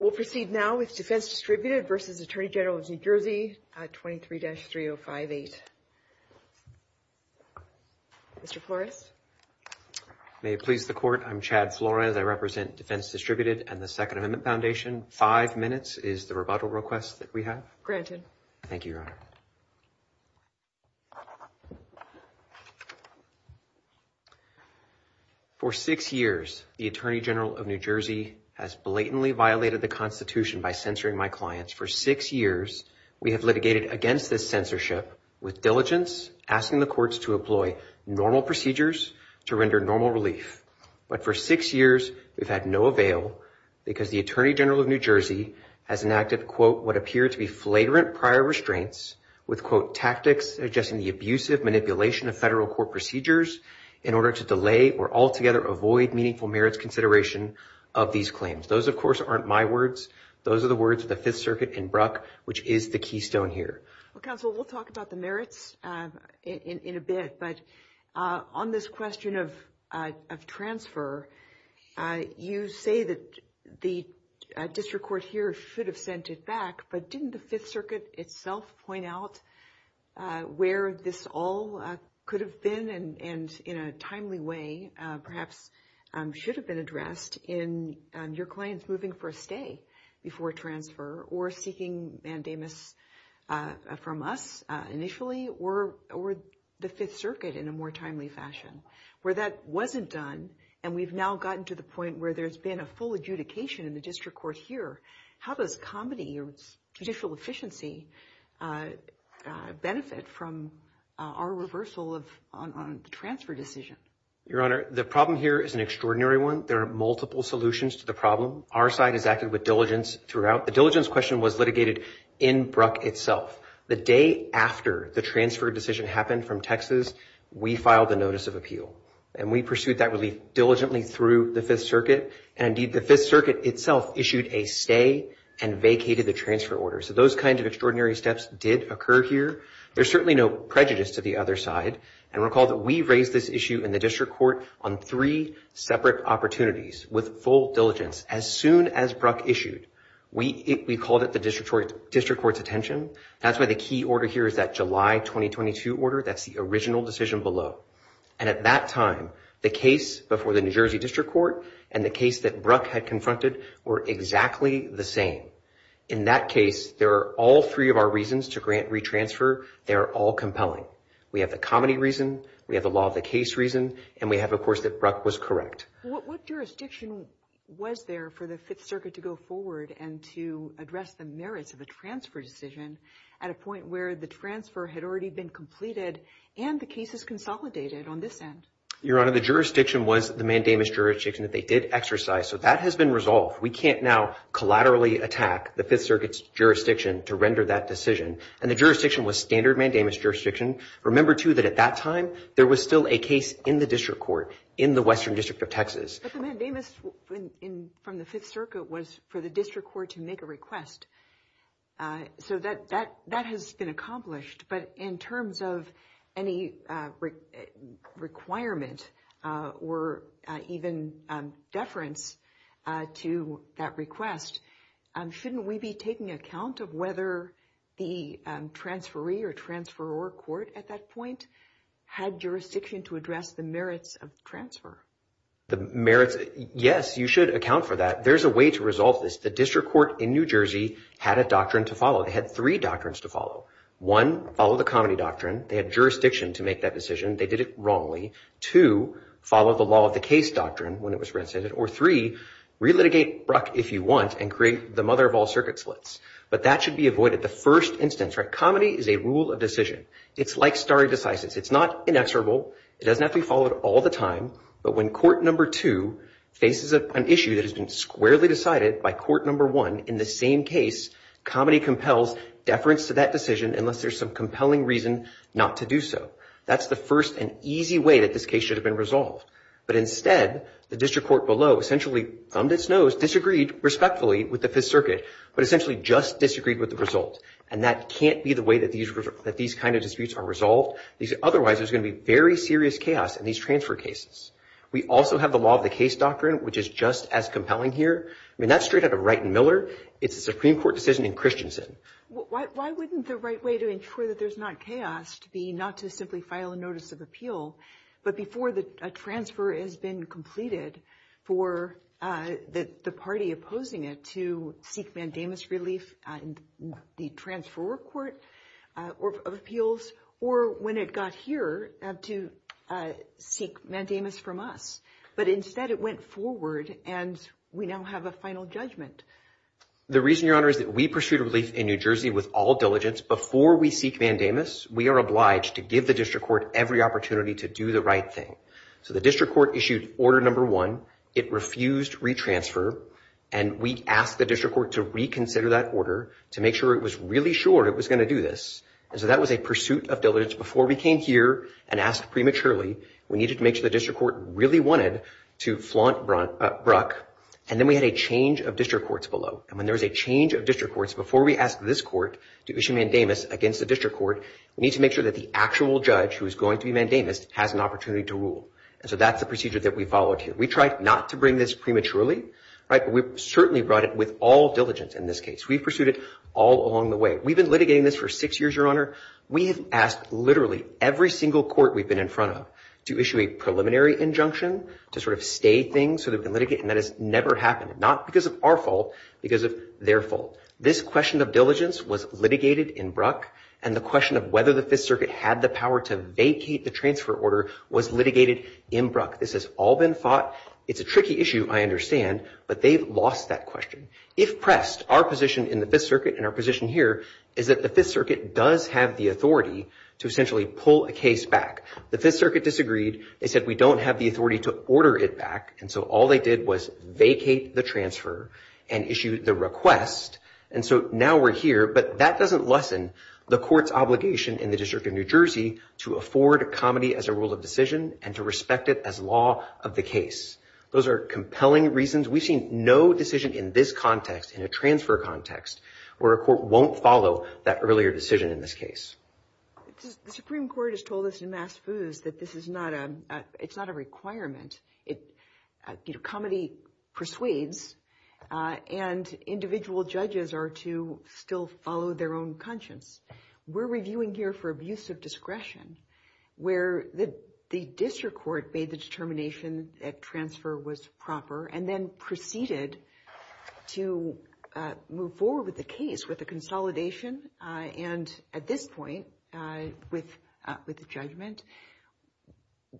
at 23-3058. Mr. Flores? May it please the Court, I'm Chad Flores. I represent Defense Distributed and the Second Amendment Foundation. Five minutes is the rebuttal request that we have. Thank you, Your Honor. For six years, the Attorney General of New Jersey has blatantly violated the Constitution by censoring my clients. For six years, we have litigated against this censorship with diligence, asking the courts to employ normal procedures to render normal relief. But for six years, we've had no avail because the Attorney General of New Jersey has enacted, quote, what appear to be flagrant prior restraints with, quote, tactics suggesting the abusive manipulation of federal court procedures in order to delay or altogether avoid meaningful merits consideration of these claims. Those, of course, aren't my words. Those are the words of the Fifth Circuit in Brock, which is the keystone here. Counsel, we'll talk about the merits in a bit. But on this question of transfer, you say that the district court here should have sent it back. But didn't the Fifth Circuit itself point out where this all could have been and in a timely way perhaps should have been addressed in your clients moving for a stay before transfer or seeking mandamus from us initially or the Fifth Circuit in a more timely fashion? Where that wasn't done and we've now gotten to the point where there's been a full adjudication in the district court here, how does comedy or judicial efficiency benefit from our reversal on transfer decisions? Your Honor, the problem here is an extraordinary one. There are multiple solutions to the problem. Our side has acted with diligence throughout. The diligence question was litigated in Brock itself. The day after the transfer decision happened from Texas, we filed a notice of appeal. And we pursued that really diligently through the Fifth Circuit. And, indeed, the Fifth Circuit itself issued a stay and vacated the transfer order. So those kinds of extraordinary steps did occur here. There's certainly no prejudice to the other side. And recall that we raised this issue in the district court on three separate opportunities with full diligence. As soon as Brock issued, we called it the district court's attention. That's why the key order here is that July 2022 order. That's the original decision below. And at that time, the case before the New Jersey district court and the case that Brock had confronted were exactly the same. In that case, there are all three of our reasons to grant retransfer. They are all compelling. We have the comedy reason. We have the law of the case reason. And we have, of course, that Brock was correct. What jurisdiction was there for the Fifth Circuit to go forward and to address the merits of a transfer decision at a point where the transfer had already been completed and the cases consolidated on this end? Your Honor, the jurisdiction was the mandamus jurisdiction that they did exercise. So that has been resolved. We can't now collaterally attack the Fifth Circuit's jurisdiction to render that decision. And the jurisdiction was standard mandamus jurisdiction. Remember, too, that at that time, there was still a case in the district court in the Western District of Texas. But the mandamus from the Fifth Circuit was for the district court to make a request. So that has been accomplished. But in terms of any requirement or even deference to that request, shouldn't we be taking account of whether the transferee or transferor court at that point had jurisdiction to address the merits of transfer? Yes, you should account for that. There's a way to resolve this. The district court in New Jersey had a doctrine to follow. They had three doctrines to follow. One, follow the comedy doctrine. They had jurisdiction to make that decision. They did it wrongly. Two, follow the law of the case doctrine when it was rescinded. Or three, relitigate Bruck if you want and create the mother of all circuit splits. But that should be avoided the first instance. Comedy is a rule of decision. It's like stare decisis. It's not inexorable. It doesn't have to be followed all the time. But when Court No. 2 faces an issue that has been squarely decided by Court No. 1 in the same case, comedy compels deference to that decision unless there's some compelling reason not to do so. That's the first and easy way that this case should have been resolved. But instead, the district court below essentially bummed its nose, disagreed respectfully with the Fifth Circuit, but essentially just disagreed with the result. And that can't be the way that these kind of disputes are resolved. Otherwise, there's going to be very serious chaos in these transfer cases. We also have the law of the case doctrine, which is just as compelling here. I mean, that's straight out of Wright and Miller. It's a Supreme Court decision in Christensen. Why wasn't the right way to ensure that there's not chaos to be not to simply file a notice of appeal, but before a transfer has been completed for the party opposing it to seek mandamus relief, the transferor court of appeals, or when it got here to seek mandamus from us? But instead, it went forward, and we now have a final judgment. The reason, Your Honor, is that we pursued relief in New Jersey with all diligence. Before we seek mandamus, we are obliged to give the district court every opportunity to do the right thing. So the district court issued Order No. 1. It refused retransfer, and we asked the district court to reconsider that order to make sure it was really sure it was going to do this. And so that was a pursuit of diligence before we came here and asked prematurely. We needed to make sure the district court really wanted to flaunt Bruck, and then we had a change of district courts below. And when there's a change of district courts, before we ask this court to issue mandamus against the district court, we need to make sure that the actual judge who is going to be mandamus has an opportunity to rule. And so that's the procedure that we followed here. We tried not to bring this prematurely. We certainly brought it with all diligence in this case. We pursued it all along the way. We've been litigating this for six years, Your Honor. We've asked literally every single court we've been in front of to issue a preliminary injunction to sort of stay things so that they can litigate, and that has never happened, not because of our fault, because of their fault. This question of diligence was litigated in Bruck, and the question of whether the Fifth Circuit had the power to vacate the transfer order was litigated in Bruck. This has all been fought. It's a tricky issue, I understand, but they lost that question. If pressed, our position in the Fifth Circuit and our position here is that the Fifth Circuit does have the authority to essentially pull a case back. The Fifth Circuit disagreed. They said we don't have the authority to order it back, and so all they did was vacate the transfer and issue the request, and so now we're here. But that doesn't lessen the court's obligation in the District of New Jersey to afford a comedy as a rule of decision and to respect it as law of the case. Those are compelling reasons. We've seen no decision in this context, in a transfer context, where a court won't follow that earlier decision in this case. The Supreme Court has told us in Mass Foods that this is not a requirement. Comedy persuades, and individual judges are to still follow their own conscience. We're reviewing here for abuse of discretion, where the district court made the determination that transfer was proper, and then proceeded to move forward with the case with a consolidation, and at this point, with a judgment.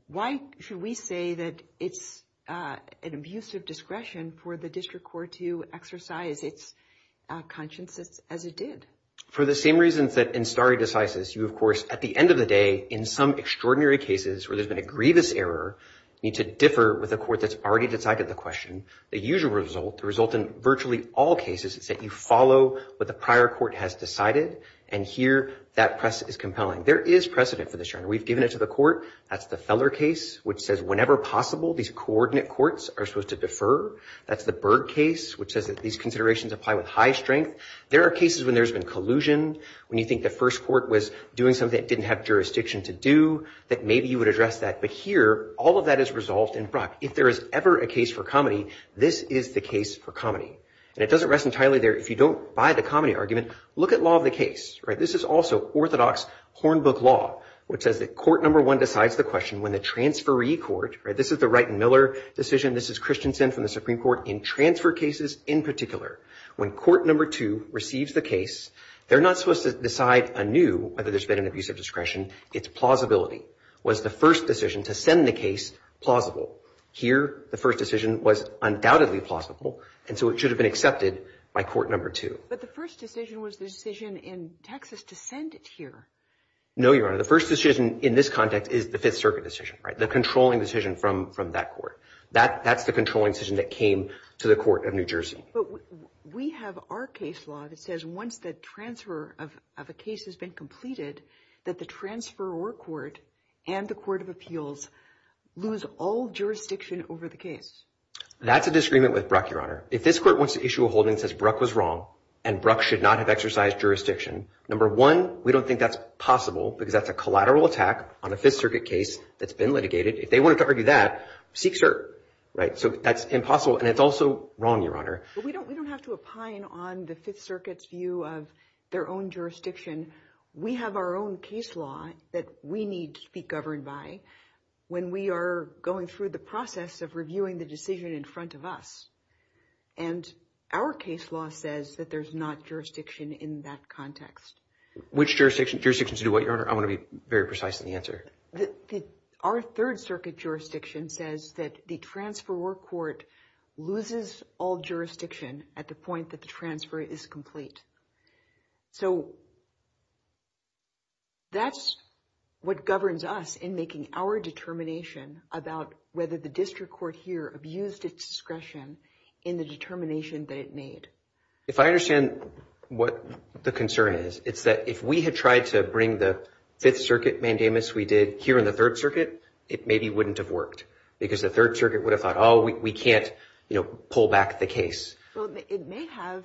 Why should we say that it's an abuse of discretion for the district court to exercise its conscience as it did? For the same reasons that in stare decisis, you, of course, at the end of the day, in some extraordinary cases where there's been a grievous error, you need to differ with a court that's already decided the question. The usual result, the result in virtually all cases, is that you follow what the prior court has decided, and here, that precedent is compelling. There is precedent for this. We've given it to the court. That's the Feller case, which says whenever possible, these coordinate courts are supposed to defer. That's the Byrd case, which says that these considerations apply with high strength. There are cases when there's been collusion, when you think the first court was doing something it didn't have jurisdiction to do, that maybe you would address that. But here, all of that is resolved in front. If there is ever a case for comedy, this is the case for comedy. And it doesn't rest entirely there. If you don't buy the comedy argument, look at law of the case. This is also orthodox hornbook law, which says that court number one decides the question when the transferee court, this is the Wright and Miller decision, this is Christensen from the Supreme Court, in transfer cases in particular, when court number two receives the case, they're not supposed to decide anew whether there's been an abuse of discretion. It's plausibility. Was the first decision to send the case plausible? Here, the first decision was undoubtedly plausible, and so it should have been accepted by court number two. But the first decision was the decision in Texas to send it here. No, Your Honor. The first decision in this context is the Fifth Circuit decision, right? The controlling decision from that court. That's the controlling decision that came to the court of New Jersey. But we have our case law that says once the transfer of a case has been completed, that the transferor court and the court of appeals lose all jurisdiction over the case. That's a disagreement with Bruck, Your Honor. If this court wants to issue a holding that says Bruck was wrong and Bruck should not have exercised jurisdiction, number one, we don't think that's possible because that's a collateral attack on a Fifth Circuit case that's been litigated. If they wanted to argue that, seek cert. So that's impossible, and it's also wrong, Your Honor. We don't have to opine on the Fifth Circuit's view of their own jurisdiction. We have our own case law that we need to be governed by when we are going through the process of reviewing the decision in front of us. And our case law says that there's not jurisdiction in that context. Which jurisdiction? Jurisdiction to do what, Your Honor? I want to be very precise in the answer. Our Third Circuit jurisdiction says that the transferor court loses all jurisdiction at the point that the transfer is complete. So that's what governs us in making our determination about whether the district court here abused its discretion in the determination that it made. If I understand what the concern is, it's that if we had tried to bring the Fifth Circuit mandamus we did here in the Third Circuit, it maybe wouldn't have worked because the Third Circuit would have thought, oh, we can't pull back the case. So it may have,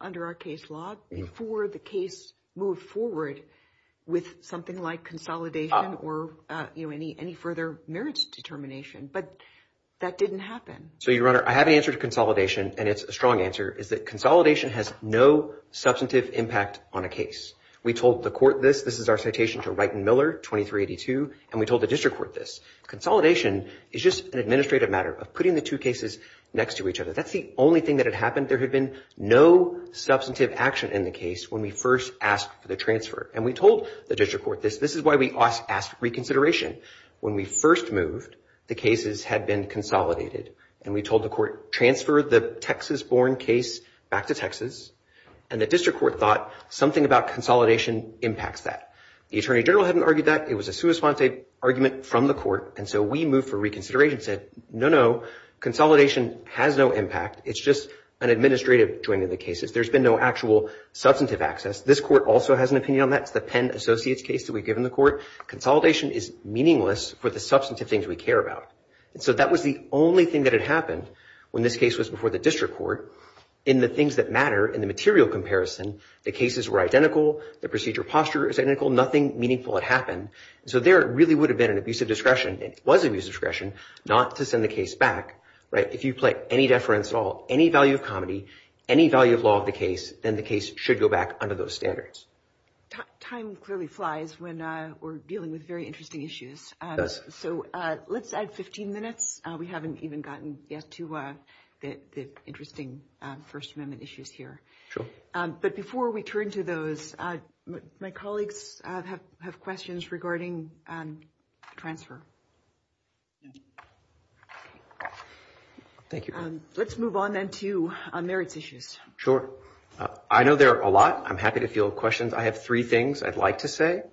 under our case law, before the case moved forward with something like consolidation or any further merits determination. But that didn't happen. So, Your Honor, I have an answer to consolidation, and it's a strong answer, is that consolidation has no substantive impact on a case. We told the court this. This is our citation from Wright and Miller, 2382, and we told the district court this. Consolidation is just an administrative matter of putting the two cases next to each other. That's the only thing that had happened. There had been no substantive action in the case when we first asked for the transfer, and we told the district court this. This is why we asked reconsideration. When we first moved, the cases had been consolidated, and we told the court, transfer the Texas-born case back to Texas, and the district court thought something about consolidation impacts that. The attorney general hadn't argued that. It was a sous-response argument from the court, and so we moved for reconsideration and said, no, no. Consolidation has no impact. It's just an administrative joint of the cases. There's been no actual substantive access. This court also has an opinion on that. It's the Penn Associates case that we've given the court. Consolidation is meaningless for the substantive things we care about, and so that was the only thing that had happened when this case was before the district court. In the things that matter, in the material comparison, the cases were identical. The procedure posture is identical. Nothing meaningful had happened, and so there it really would have been an abusive discretion, and it was an abusive discretion, not to send the case back. If you play any deference at all, any value of comedy, any value of law of the case, then the case should go back under those standards. Time clearly flies when we're dealing with very interesting issues. It does. So let's add 15 minutes. We haven't even gotten yet to the interesting First Amendment issues here. Sure. But before we turn to those, my colleagues have questions regarding transfer. Thank you. Let's move on then to merits issues. Sure. I know there are a lot. I'm happy to field questions. I have three things I'd like to say.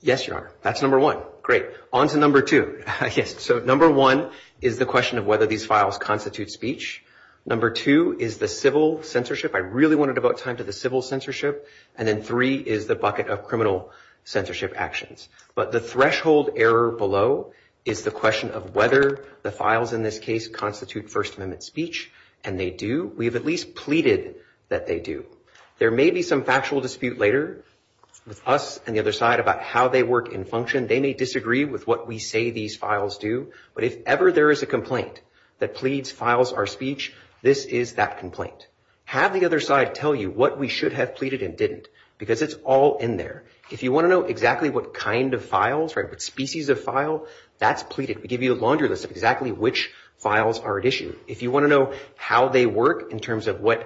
yes, you are. That's number one. Great. On to number two. So number one is the question of whether these files constitute speech. Number two is the civil censorship. I really want to devote time to the civil censorship. And then three is the bucket of criminal censorship actions. But the threshold error below is the question of whether the files in this case constitute First Amendment speech, and they do. We have at least pleaded that they do. There may be some factual dispute later with us and the other side about how they work in function. They may disagree with what we say these files do, but if ever there is a complaint that pleads files are speech, this is that complaint. Have the other side tell you what we should have pleaded and didn't, because it's all in there. If you want to know exactly what kind of files, what species of file, that's pleaded. We give you a laundry list of exactly which files are at issue. If you want to know how they work in terms of what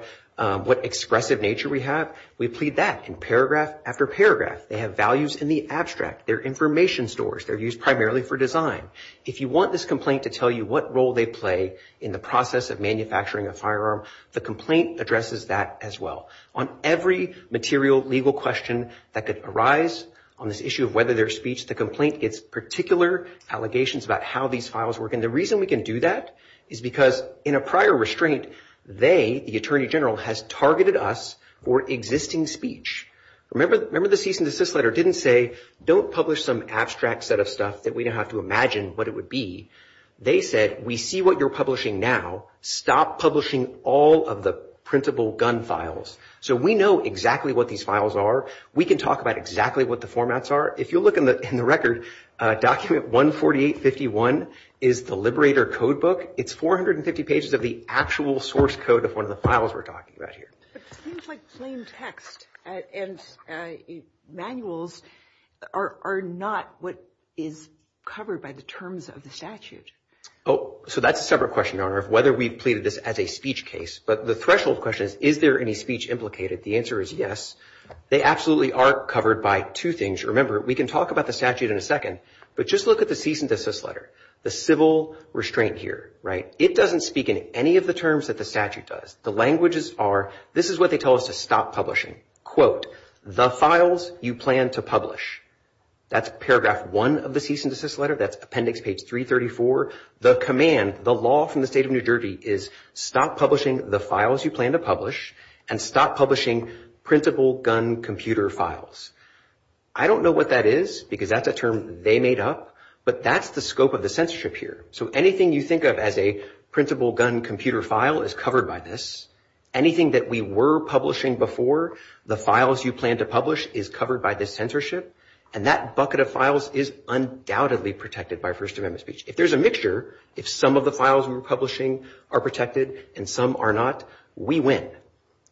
expressive nature we have, we plead that in paragraph after paragraph. They have values in the abstract. They're information stores. They're used primarily for design. If you want this complaint to tell you what role they play in the process of manufacturing a firearm, the complaint addresses that as well. On every material legal question that arises on this issue of whether they're speech, the complaint gets particular allegations about how these files work. And the reason we can do that is because in a prior restraint, they, the Attorney General, has targeted us for existing speech. Remember the cease and desist letter didn't say don't publish some abstract set of stuff that we don't have to imagine what it would be. They said, we see what you're publishing now. Stop publishing all of the printable gun files. So we know exactly what these files are. We can talk about exactly what the formats are. If you look in the record, document 14851 is the liberator code book. It's 450 pages of the actual source code of one of the files we're talking about here. It seems like plain text and manuals are not what is covered by the terms of the statute. Oh, so that's a separate question, Your Honor, of whether we've pleaded this as a speech case. But the threshold question is, is there any speech implicated? The answer is yes. They absolutely are covered by two things. Remember, we can talk about the statute in a second, but just look at the cease and desist letter. The civil restraint here, right, it doesn't speak in any of the terms that the statute does. The languages are, this is what they tell us to stop publishing, quote, the files you plan to publish. That's paragraph one of the cease and desist letter. That's appendix page 334. The command, the law from the state of New Jersey is stop publishing the files you plan to publish and stop publishing printable gun computer files. I don't know what that is because that's a term they made up, but that's the scope of the censorship here. So anything you think of as a printable gun computer file is covered by this. Anything that we were publishing before, the files you plan to publish is covered by this censorship, and that bucket of files is undoubtedly protected by First Amendment speech. If there's a mixture, if some of the files we're publishing are protected and some are not, we win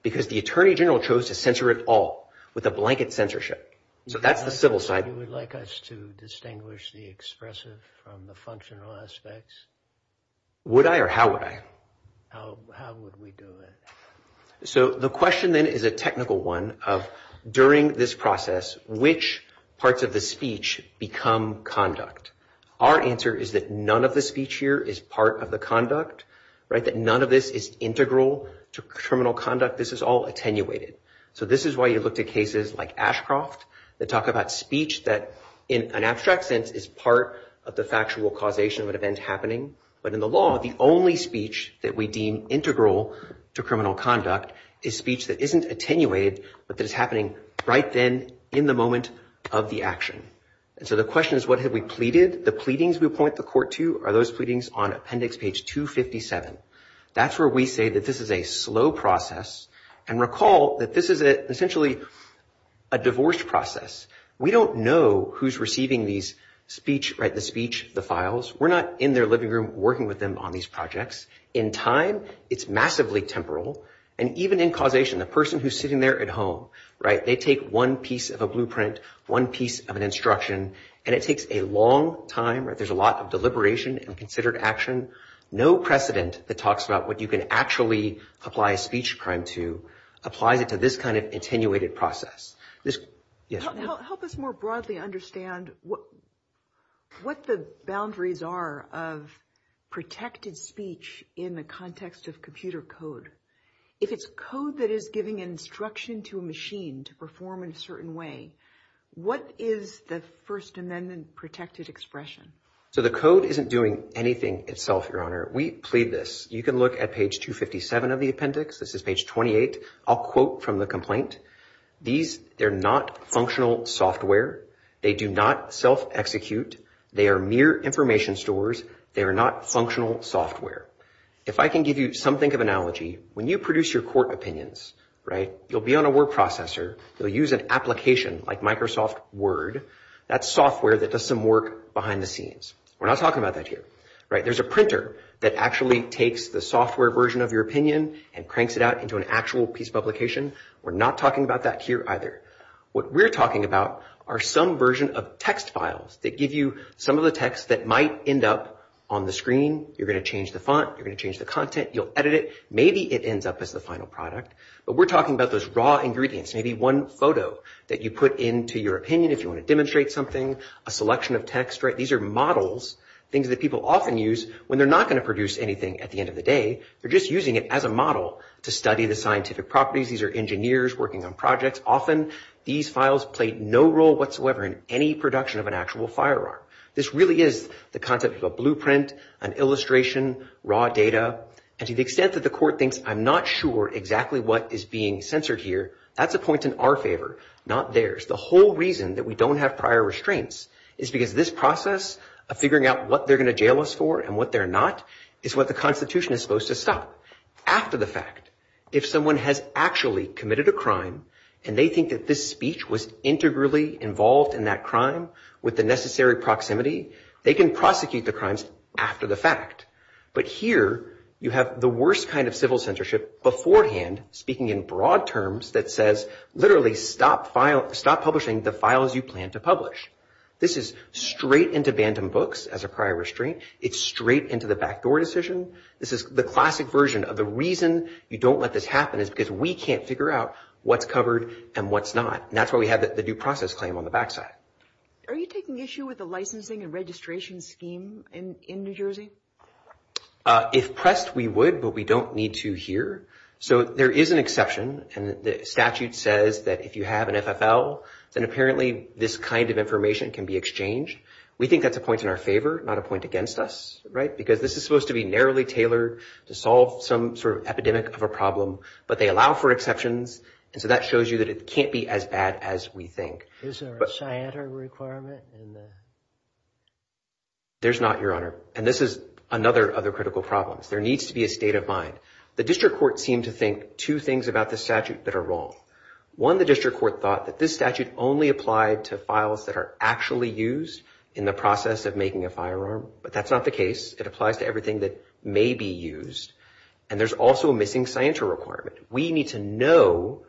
because the Attorney General chose to censor it all with a blanket censorship. So that's the civil side. Would you like us to distinguish the expressive from the functional aspects? Would I or how would I? How would we do it? So the question then is a technical one of during this process, which parts of the speech become conduct? Our answer is that none of the speech here is part of the conduct, right, that none of this is integral to terminal conduct. This is all attenuated. So this is why you look to cases like Ashcroft that talk about speech that, in an abstract sense, is part of the factual causation of an event happening. But in the law, the only speech that we deem integral to criminal conduct is speech that isn't attenuated, but that is happening right then in the moment of the action. So the question is what have we pleaded? The pleadings we point the court to are those pleadings on appendix page 257. That's where we say that this is a slow process. And recall that this is essentially a divorce process. We don't know who's receiving the speech, the files. We're not in their living room working with them on these projects. In time, it's massively temporal. And even in causation, the person who's sitting there at home, right, they take one piece of a blueprint, one piece of an instruction, and it takes a long time. There's a lot of deliberation and considered action. No precedent that talks about what you can actually apply a speech prime to applied to this kind of attenuated process. Yes? Help us more broadly understand what the boundaries are of protected speech in the context of computer code. If it's code that is giving an instruction to a machine to perform in a certain way, what is the First Amendment protected expression? So the code isn't doing anything itself, Your Honor. We plead this. You can look at page 257 of the appendix. This is page 28. I'll quote from the complaint. These, they're not functional software. They do not self-execute. They are mere information stores. They are not functional software. If I can give you something of analogy, when you produce your court opinions, right, you'll be on a word processor. You'll use an application like Microsoft Word. That's software that does some work behind the scenes. We're not talking about that here. There's a printer that actually takes the software version of your opinion and cranks it out into an actual piece of publication. We're not talking about that here either. What we're talking about are some version of text files that give you some of the text that might end up on the screen. You're going to change the font. You're going to change the content. You'll edit it. Maybe it ends up as the final product. But we're talking about those raw ingredients. Maybe one photo that you put into your opinion if you want to demonstrate something, a selection of text. These are models, things that people often use when they're not going to produce anything at the end of the day. They're just using it as a model to study the scientific properties. These are engineers working on projects. Often these files play no role whatsoever in any production of an actual firearm. This really is the concept of a blueprint, an illustration, raw data. To the extent that the court thinks I'm not sure exactly what is being censored here, that's a point in our favor, not theirs. The whole reason that we don't have prior restraints is because this process of figuring out what they're going to jail us for and what they're not is what the Constitution is supposed to stop. After the fact, if someone has actually committed a crime and they think that this speech was integrally involved in that crime with the necessary proximity, they can prosecute the crimes after the fact. But here you have the worst kind of civil censorship beforehand, speaking in broad terms that says literally stop publishing the files you plan to publish. This is straight into vandum books as a prior restraint. It's straight into the backdoor decision. The classic version of the reason you don't let this happen is because we can't figure out what's covered and what's not. That's why we have the due process claim on the back side. Are you taking issue with the licensing and registration scheme in New Jersey? If pressed, we would, but we don't need to here. So there is an exception, and the statute says that if you have an FFL, then apparently this kind of information can be exchanged. We think that's a point in our favor, not a point against us, right? Because this is supposed to be narrowly tailored to solve some sort of epidemic of a problem, but they allow for exceptions, and so that shows you that it can't be as bad as we think. Is there a CYATR requirement? There's not, Your Honor, and this is another of the critical problems. There needs to be a state of mind. The district court seemed to think two things about this statute that are wrong. One, the district court thought that this statute only applied to files that are actually used in the process of making a firearm, but that's not the case. It applies to everything that may be used, and there's also a missing CYATR requirement. We need to know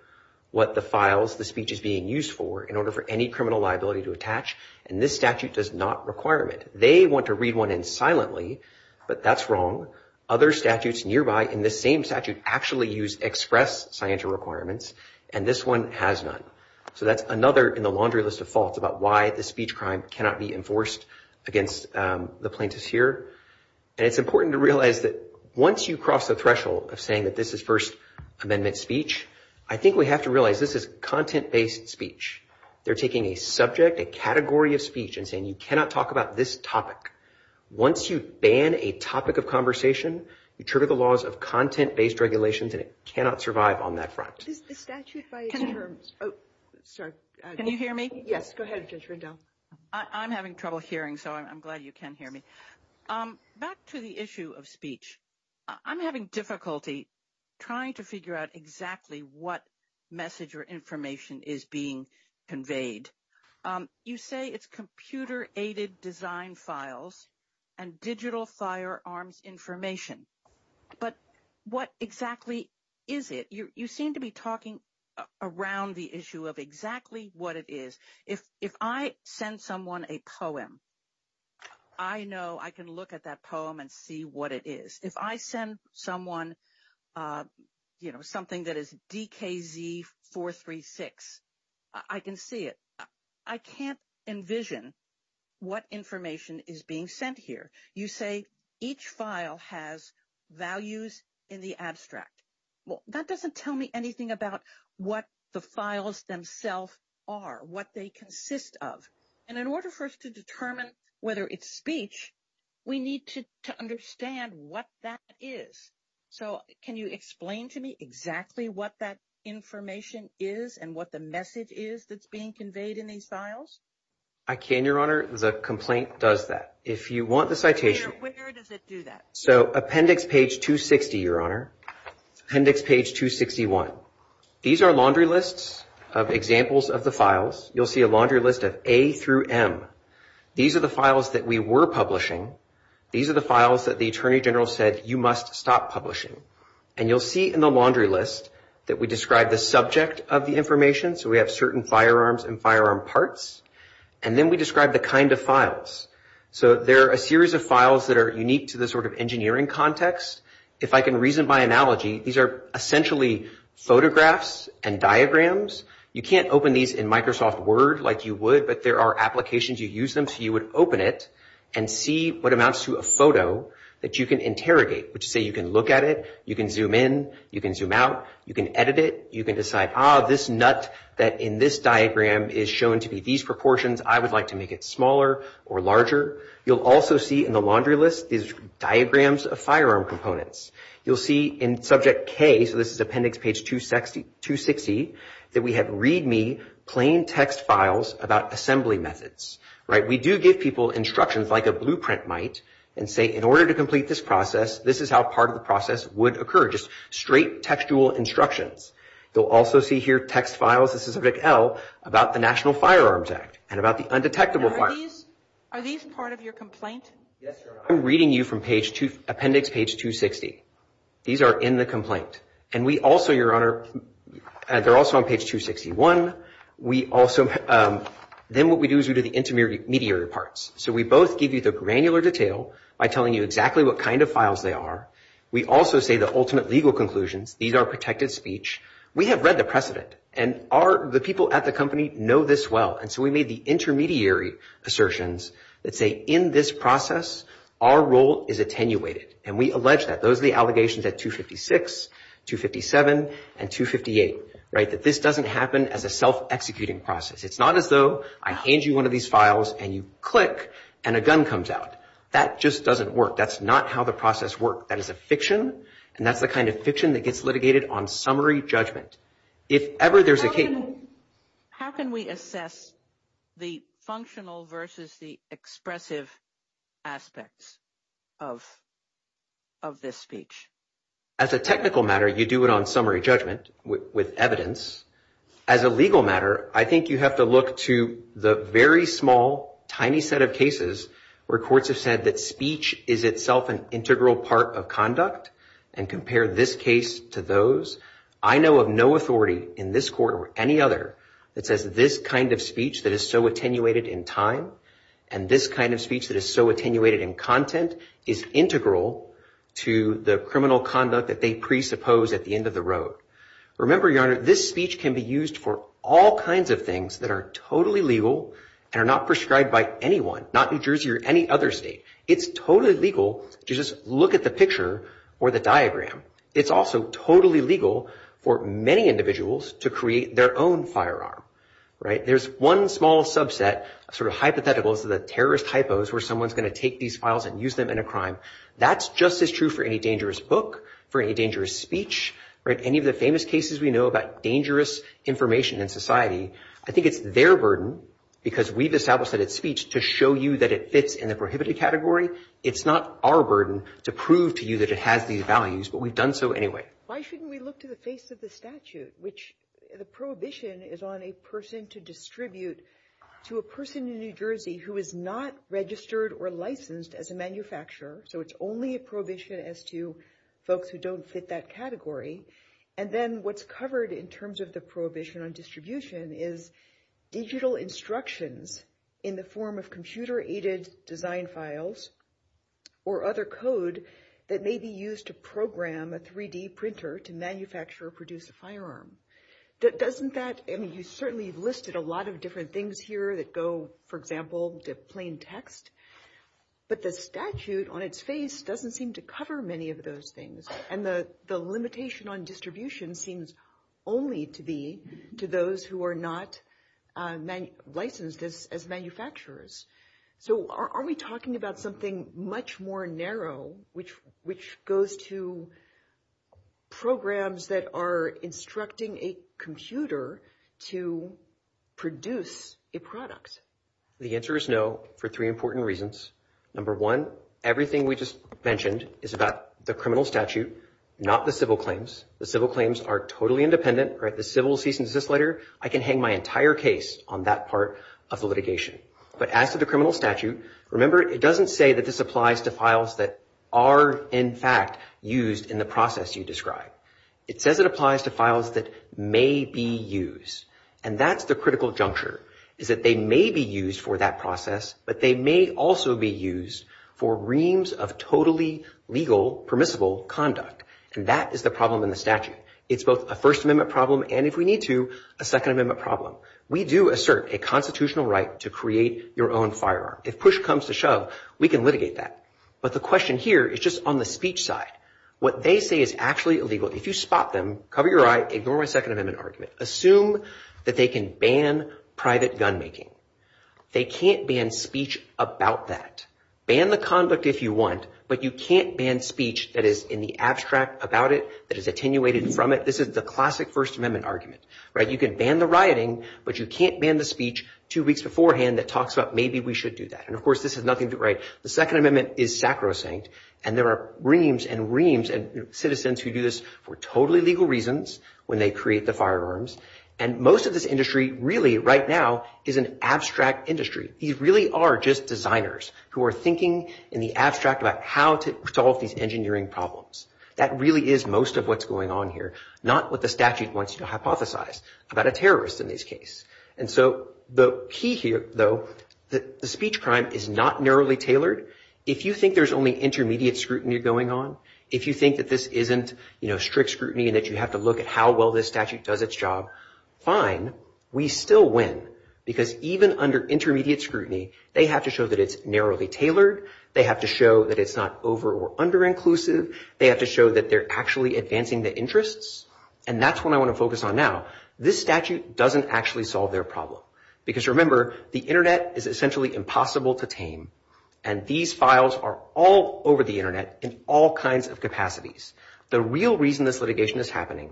what the files the speech is being used for in order for any criminal liability to attach, and this statute does not require it. They want to read one in silently, but that's wrong. Other statutes nearby in this same statute actually use express CYATR requirements, and this one has none, so that's another in the laundry list of faults about why the speech crime cannot be enforced against the plaintiffs here, and it's important to realize that once you cross the threshold of saying that this is First Amendment speech, I think we have to realize this is content-based speech. They're taking a subject, a category of speech, and saying you cannot talk about this topic. Once you ban a topic of conversation, you turn to the laws of content-based regulations, and it cannot survive on that front. Can you hear me? Yes, go ahead, Judge Rendell. I'm having trouble hearing, so I'm glad you can hear me. Back to the issue of speech, I'm having difficulty trying to figure out exactly what message or information is being conveyed. You say it's computer-aided design files and digital firearms information, but what exactly is it? You seem to be talking around the issue of exactly what it is. If I send someone a poem, I know I can look at that poem and see what it is. If I send someone something that is DKZ 436, I can see it. I can't envision what information is being sent here. You say each file has values in the abstract. Well, that doesn't tell me anything about what the files themselves are, what they consist of. In order for us to determine whether it's speech, we need to understand what that is. Can you explain to me exactly what that information is and what the message is that's being conveyed in these files? I can, Your Honor. The complaint does that. If you want the citation. Where does it do that? Appendix page 260, Your Honor. Appendix page 261. These are laundry lists of examples of the files. You'll see a laundry list of A through M. These are the files that we were publishing. These are the files that the Attorney General said you must stop publishing. And you'll see in the laundry list that we describe the subject of the information. So we have certain firearms and firearm parts. And then we describe the kind of files. So there are a series of files that are unique to the sort of engineering context. If I can reason by analogy, these are essentially photographs and diagrams. You can't open these in Microsoft Word like you would, but there are applications you use them. So you would open it and see what amounts to a photo that you can interrogate. So you can look at it. You can zoom in. You can zoom out. You can edit it. You can decide, ah, this nut that in this diagram is shown to be these proportions. I would like to make it smaller or larger. You'll also see in the laundry list these diagrams of firearm components. You'll see in subject K, so this is appendix page 260, that we have read me plain text files about assembly methods. We do give people instructions like a blueprint might and say in order to complete this process, this is how part of the process would occur, just straight textual instructions. You'll also see here text files, this is subject L, about the National Firearms Act and about the undetectable firearms. Are these part of your complaint? Yes, sir. I'm reading you from appendix page 260. These are in the complaint. And we also, Your Honor, they're also on page 261. Then what we do is we do the intermediary parts. So we both give you the granular detail by telling you exactly what kind of files they are. We also say the ultimate legal conclusions. These are protected speech. We have read the precedent, and the people at the company know this well. And so we made the intermediary assertions that say in this process, our role is attenuated. And we allege that. Those are the allegations at 256, 257, and 258, right, that this doesn't happen as a self-executing process. It's not as though I hand you one of these files and you click and a gun comes out. That just doesn't work. That's not how the process works. That is a fiction, and that's the kind of fiction that gets litigated on summary judgment. How can we assess the functional versus the expressive aspects of this speech? As a technical matter, you do it on summary judgment with evidence. As a legal matter, I think you have to look to the very small, tiny set of cases where courts have said that speech is itself an integral part of conduct and compare this case to those. I know of no authority in this court or any other that says this kind of speech that is so attenuated in time and this kind of speech that is so attenuated in content is integral to the criminal conduct that they presuppose at the end of the road. Remember, Your Honor, this speech can be used for all kinds of things that are totally legal and are not prescribed by anyone, not New Jersey or any other state. It's totally legal to just look at the picture or the diagram. It's also totally legal for many individuals to create their own firearm, right? There's one small subset, sort of hypothetical, of the terrorist hypos where someone's going to take these files and use them in a crime. That's just as true for any dangerous book, for any dangerous speech, for any of the famous cases we know about dangerous information in society. I think it's their burden, because we've established that it's speech, to show you that it fits in the prohibited category. It's not our burden to prove to you that it has these values, but we've done so anyway. Why shouldn't we look to the face of the statute, which the prohibition is on a person to distribute to a person in New Jersey who is not registered or licensed as a manufacturer, so it's only a prohibition as to folks who don't fit that category. And then what's covered in terms of the prohibition on distribution is digital instructions in the form of computer-aided design files or other code that may be used to program a 3-D printer to manufacture or produce a firearm. Doesn't that—I mean, you've certainly listed a lot of different things here that go, for example, to plain text, but the statute on its face doesn't seem to cover many of those things, and the limitation on distribution seems only to be to those who are not licensed as manufacturers. So are we talking about something much more narrow, which goes to programs that are instructing a computer to produce a product? The answer is no, for three important reasons. Number one, everything we just mentioned is about the criminal statute, not the civil claims. The civil claims are totally independent. The civil cease and desist letter, I can hang my entire case on that part of the litigation. But as to the criminal statute, remember, it doesn't say that this applies to files that are in fact used in the process you described. It says it applies to files that may be used, and that's the critical juncture, is that they may be used for that process, but they may also be used for reams of totally legal, permissible conduct, and that is the problem in the statute. It's both a First Amendment problem and, if we need to, a Second Amendment problem. We do assert a constitutional right to create your own firearm. If push comes to shove, we can litigate that. But the question here is just on the speech side. What they say is actually illegal. If you spot them, cover your eye, ignore my Second Amendment argument. Assume that they can ban private gun making. They can't ban speech about that. Ban the conduct if you want, but you can't ban speech that is in the abstract about it, that is attenuated from it. This is the classic First Amendment argument. You can ban the rioting, but you can't ban the speech two weeks beforehand that talks about maybe we should do that. And, of course, this is nothing to write. The Second Amendment is sacrosanct, and there are reams and reams, and citizens who do this for totally legal reasons when they create the firearms. And most of this industry really right now is an abstract industry. These really are just designers who are thinking in the abstract about how to solve these engineering problems. That really is most of what's going on here, not what the statute wants you to hypothesize about a terrorist in this case. And so the key here, though, the speech crime is not narrowly tailored. If you think there's only intermediate scrutiny going on, if you think that this isn't, you know, strict scrutiny and that you have to look at how well this statute does its job, fine. We still win because even under intermediate scrutiny, they have to show that it's narrowly tailored. They have to show that it's not over or under inclusive. They have to show that they're actually advancing the interests, and that's what I want to focus on now. This statute doesn't actually solve their problem because, remember, the Internet is essentially impossible to tame, and these files are all over the Internet in all kinds of capacities. The real reason this litigation is happening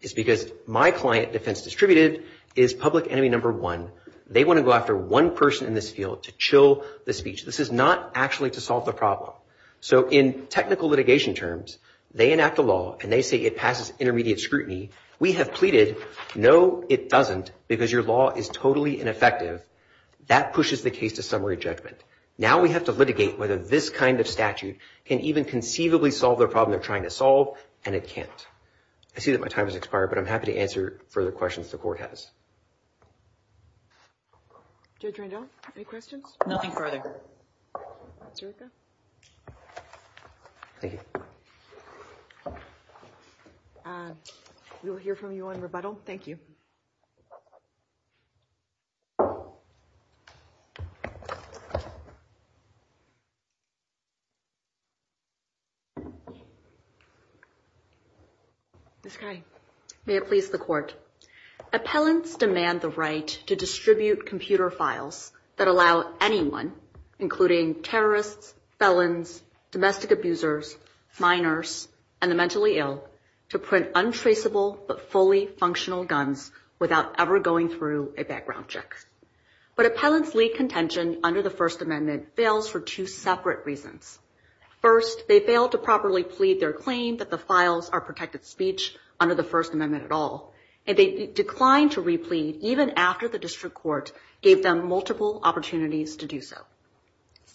is because my client, Defense Distributed, is public enemy number one. They want to go after one person in this field to chill the speech. This is not actually to solve the problem. So in technical litigation terms, they enact the law, and they say it passes intermediate scrutiny. We have pleaded, no, it doesn't because your law is totally ineffective. That pushes the case to summary judgment. Now we have to litigate whether this kind of statute can even conceivably solve the problem they're trying to solve, and it can't. I see that my time has expired, but I'm happy to answer further questions the court has. Judge Randolph, any questions? Nothing further. Thank you. We will hear from you in rebuttal. Thank you. May it please the court. Appellants demand the right to distribute computer files that allow anyone, including terrorists, felons, domestic abusers, minors, and the mentally ill, to print untraceable but fully functional guns without ever going through a background check. But appellants' plea contention under the First Amendment fails for two separate reasons. First, they failed to properly plead their claim that the files are protected speech under the First Amendment at all, and they declined to replead even after the district court gave them multiple opportunities to do so.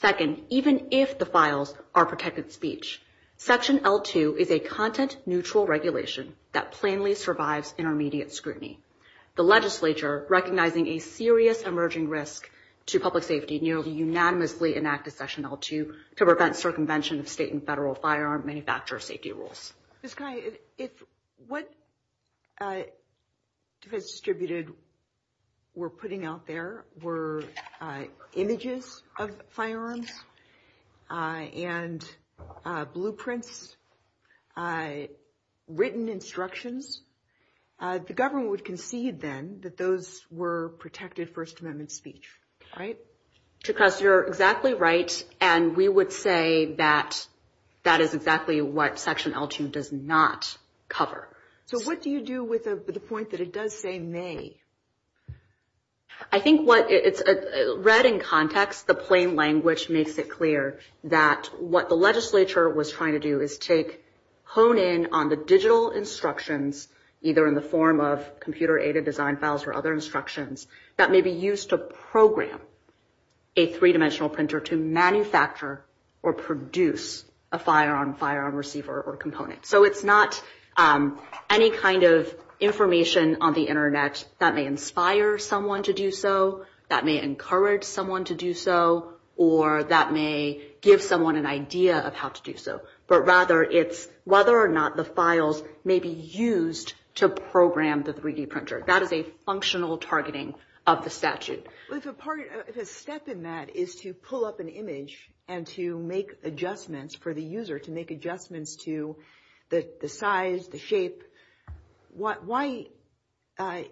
Second, even if the files are protected speech, Section L-2 is a content-neutral regulation that plainly survives intermediate scrutiny. The legislature, recognizing a serious emerging risk to public safety, nearly unanimously enacted Section L-2 to prevent circumvention of state and federal firearm manufacturer safety rules. Ms. Kiley, if what you have distributed we're putting out there were images of firearms and blueprints, written instructions, the government would concede, then, that those were protected First Amendment speech, right? Yes, you're exactly right, and we would say that that is exactly what Section L-2 does not cover. So what do you do with the point that it does say, nay? I think, read in context, the plain language makes it clear that what the legislature was trying to do is take, hone in on the digital instructions, either in the form of computer-aided design files or other instructions, that may be used to program a three-dimensional printer to manufacture or produce a firearm, firearm receiver, or component. So it's not any kind of information on the Internet that may inspire someone to do so, that may encourage someone to do so, or that may give someone an idea of how to do so, but rather it's whether or not the files may be used to program the 3-D printer. That is a functional targeting of the statute. The step in that is to pull up an image and to make adjustments for the user, to make adjustments to the size, the shape. Why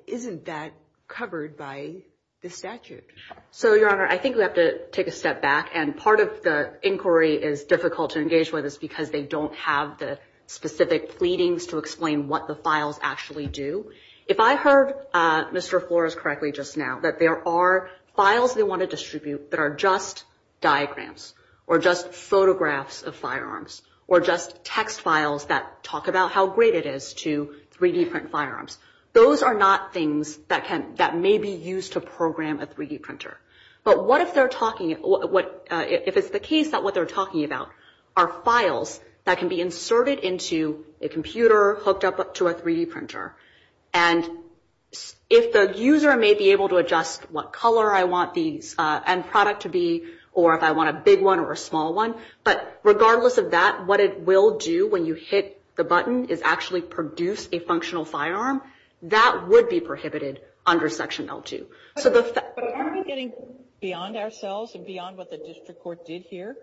isn't that covered by the statute? So, Your Honor, I think we have to take a step back, and part of the inquiry is difficult to engage with is because they don't have the specific pleadings to explain what the files actually do. If I heard Mr. Flores correctly just now, that there are files we want to distribute that are just diagrams or just photographs of firearms or just text files that talk about how great it is to 3-D print firearms. Those are not things that may be used to program a 3-D printer. But if it's the case that what they're talking about are files that can be inserted into a computer, hooked up to a 3-D printer, and if the user may be able to adjust what color I want the end product to be or if I want a big one or a small one, but regardless of that, what it will do when you hit the button is actually produce a functional firearm. That would be prohibited under Section L2. But are we getting beyond ourselves and beyond what the district court did here?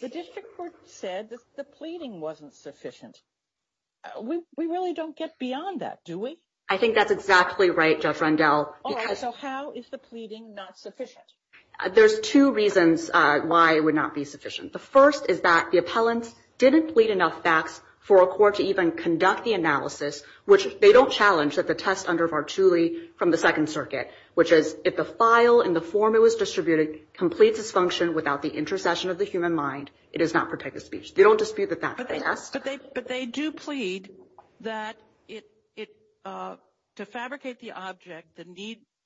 The district court said that the pleading wasn't sufficient. We really don't get beyond that, do we? I think that's exactly right, Judge Rendell. All right, so how is the pleading not sufficient? There's two reasons why it would not be sufficient. The first is that the appellant didn't plead enough facts for a court to even conduct the analysis, which they don't challenge at the test under Vartuli from the Second Circuit, which is if the file in the form it was distributed completes its function without the intercession of the human mind, it does not protect the speech. They don't dispute that fact. But they do plead that to fabricate the object,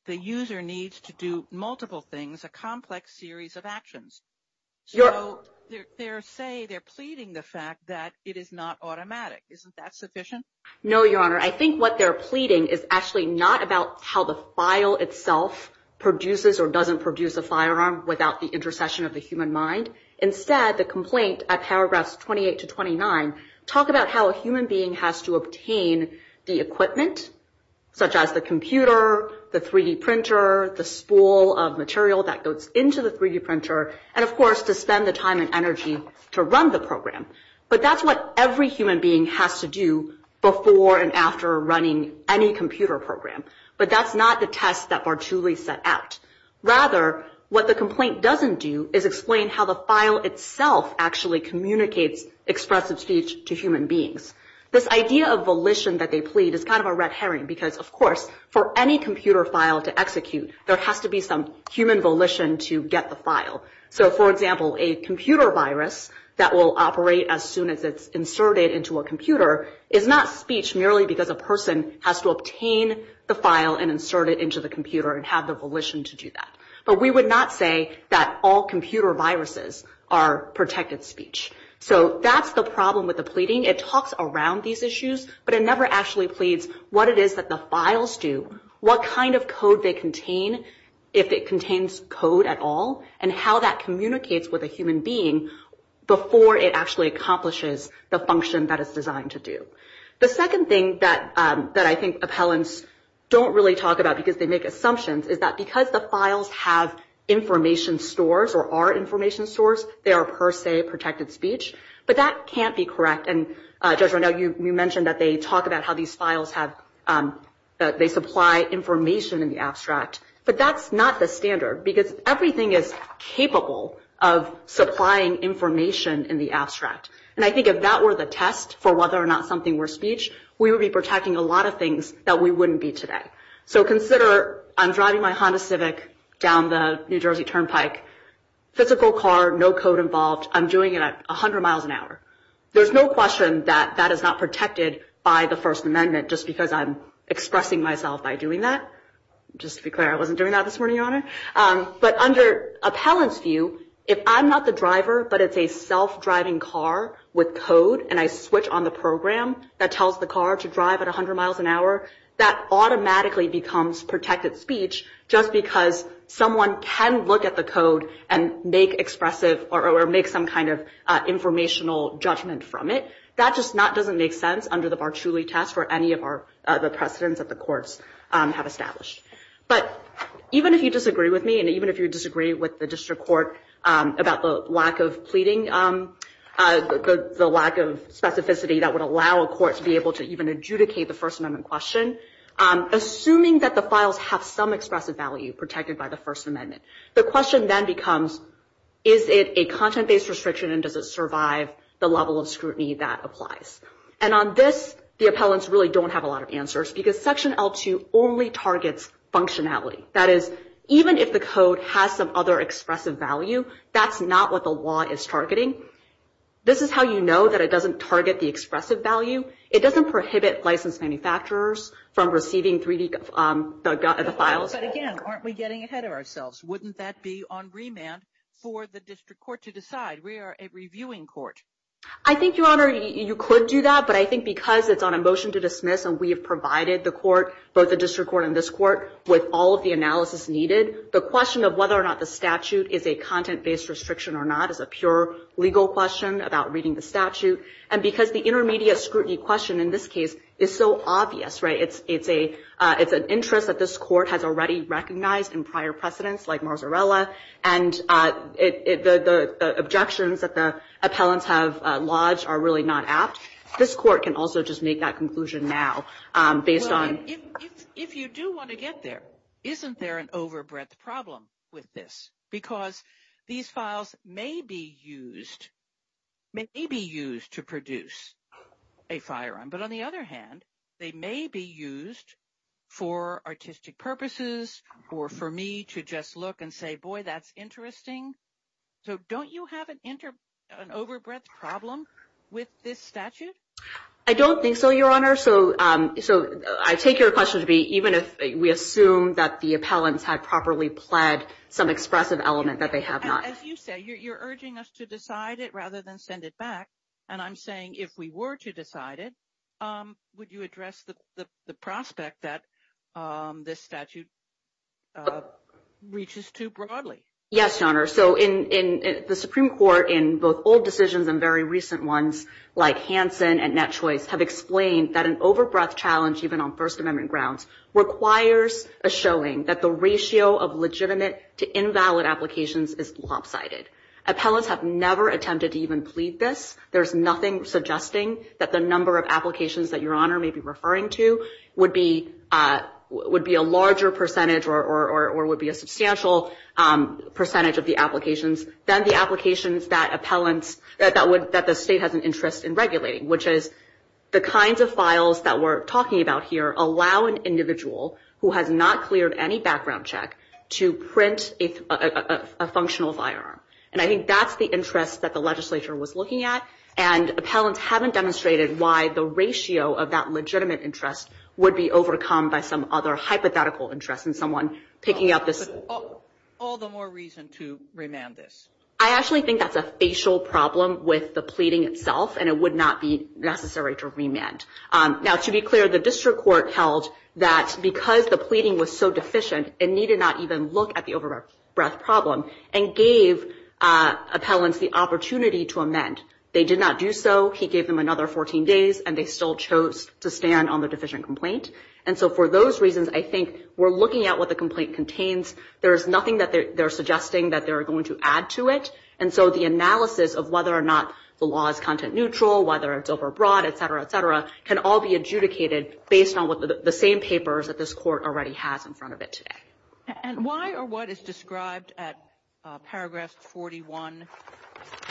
the user needs to do multiple things, a complex series of actions. So they say they're pleading the fact that it is not automatic. Isn't that sufficient? No, Your Honor. I think what they're pleading is actually not about how the file itself produces or doesn't produce a firearm without the intercession of the human mind. Instead, the complaint at paragraphs 28 to 29 talk about how a human being has to obtain the equipment, such as the computer, the 3D printer, the spool of material that goes into the 3D printer, and, of course, to spend the time and energy to run the program. But that's what every human being has to do before and after running any computer program. But that's not the test that Vartuli set out. Rather, what the complaint doesn't do is explain how the file itself actually communicates expressive speech to human beings. This idea of volition that they plead is kind of a red herring because, of course, for any computer file to execute, there has to be some human volition to get the file. So, for example, a computer virus that will operate as soon as it's inserted into a computer is not speech merely because a person has to obtain the file and insert it into the computer and have the volition to do that. But we would not say that all computer viruses are protected speech. So that's the problem with the pleading. It talks around these issues, but it never actually pleads what it is that the files do, what kind of code they contain, if it contains code at all, and how that communicates with a human being before it actually accomplishes the function that it's designed to do. The second thing that I think appellants don't really talk about because they make assumptions is that because the files have information stores or are information stores, they are per se protected speech. But that can't be correct. And, Desiree, you mentioned that they talk about how these files have... they supply information in the abstract. But that's not the standard because everything is capable of supplying information in the abstract. And I think if that were the test for whether or not something were speech, we would be protecting a lot of things that we wouldn't be today. So consider I'm driving my Honda Civic down the New Jersey Turnpike. Physical car, no code involved. I'm doing it at 100 miles an hour. There's no question that that is not protected by the First Amendment just because I'm expressing myself by doing that. Just to be clear, I wasn't doing that this morning, Your Honor. But under appellant's view, if I'm not the driver, but it's a self-driving car with code and I switch on the program that tells the car to drive at 100 miles an hour, that automatically becomes protected speech just because someone can look at the code and make expressive or make some kind of informational judgment from it. That just doesn't make sense under the Bartuli test for any of the precedents that the courts have established. But even if you disagree with me, and even if you disagree with the district court about the lack of pleading, the lack of specificity that would allow a court to be able to even adjudicate the First Amendment question, assuming that the files have some expressive value protected by the First Amendment, the question then becomes, is it a content-based restriction and does it survive the level of scrutiny that applies? And on this, the appellants really don't have a lot of answers because Section L2 only targets functionality. That is, even if the code has some other expressive value, that's not what the law is targeting. This is how you know that it doesn't target the expressive value. It doesn't prohibit licensed manufacturers from receiving 3D files. But again, aren't we getting ahead of ourselves? Wouldn't that be on remand for the district court to decide? We are a reviewing court. I think, Your Honor, you could do that, but I think because it's on a motion to dismiss and we have provided the court, both the district court and this court, with all of the analysis needed, the question of whether or not the statute is a content-based restriction or not is a pure legal question about reading the statute. And because the intermediate scrutiny question in this case is so obvious, it's an interest that this court has already recognized in prior precedents, like Marzarella, and the objections that the appellants have lodged are really not apt. This court can also just make that conclusion now based on... If you do want to get there, isn't there an overbreadth problem with this? Because these files may be used to produce a firearm, but on the other hand, they may be used for artistic purposes or for me to just look and say, boy, that's interesting. So don't you have an overbreadth problem with this statute? I don't think so, Your Honor. So I take your question to be even if we assume that the appellants have properly pled some expressive element that they have not. As you say, you're urging us to decide it rather than send it back, and I'm saying if we were to decide it, would you address the prospect that this statute reaches too broadly? Yes, Your Honor. So the Supreme Court in both old decisions and very recent ones, like Hansen and Netchoice, have explained that an overbreadth challenge, even on First Amendment grounds, requires a showing that the ratio of legitimate to invalid applications is lopsided. Appellants have never attempted to even plead this. There's nothing suggesting that the number of applications that Your Honor may be referring to would be a larger percentage or would be a substantial percentage of the applications than the applications that the state has an interest in regulating, which is the kinds of files that we're talking about here allow an individual who has not cleared any background check to print a functional firearm. And I think that's the interest that the legislature was looking at, and appellants haven't demonstrated why the ratio of that legitimate interest would be overcome by some other hypothetical interest in someone picking up this. All the more reason to remand this. I actually think that's a facial problem with the pleading itself, and it would not be necessary to remand. Now, to be clear, the district court held that because the pleading was so deficient, it needed not even look at the overbreadth problem and gave appellants the opportunity to amend. They did not do so. He gave them another 14 days, and they still chose to stand on the deficient complaint. And so for those reasons, I think we're looking at what the complaint contains. There is nothing that they're suggesting that they're going to add to it. And so the analysis of whether or not the law is content neutral, whether it's overbroad, et cetera, et cetera, can all be adjudicated based on the same papers that this court already has in front of it today. And why or what is described at paragraphs 41,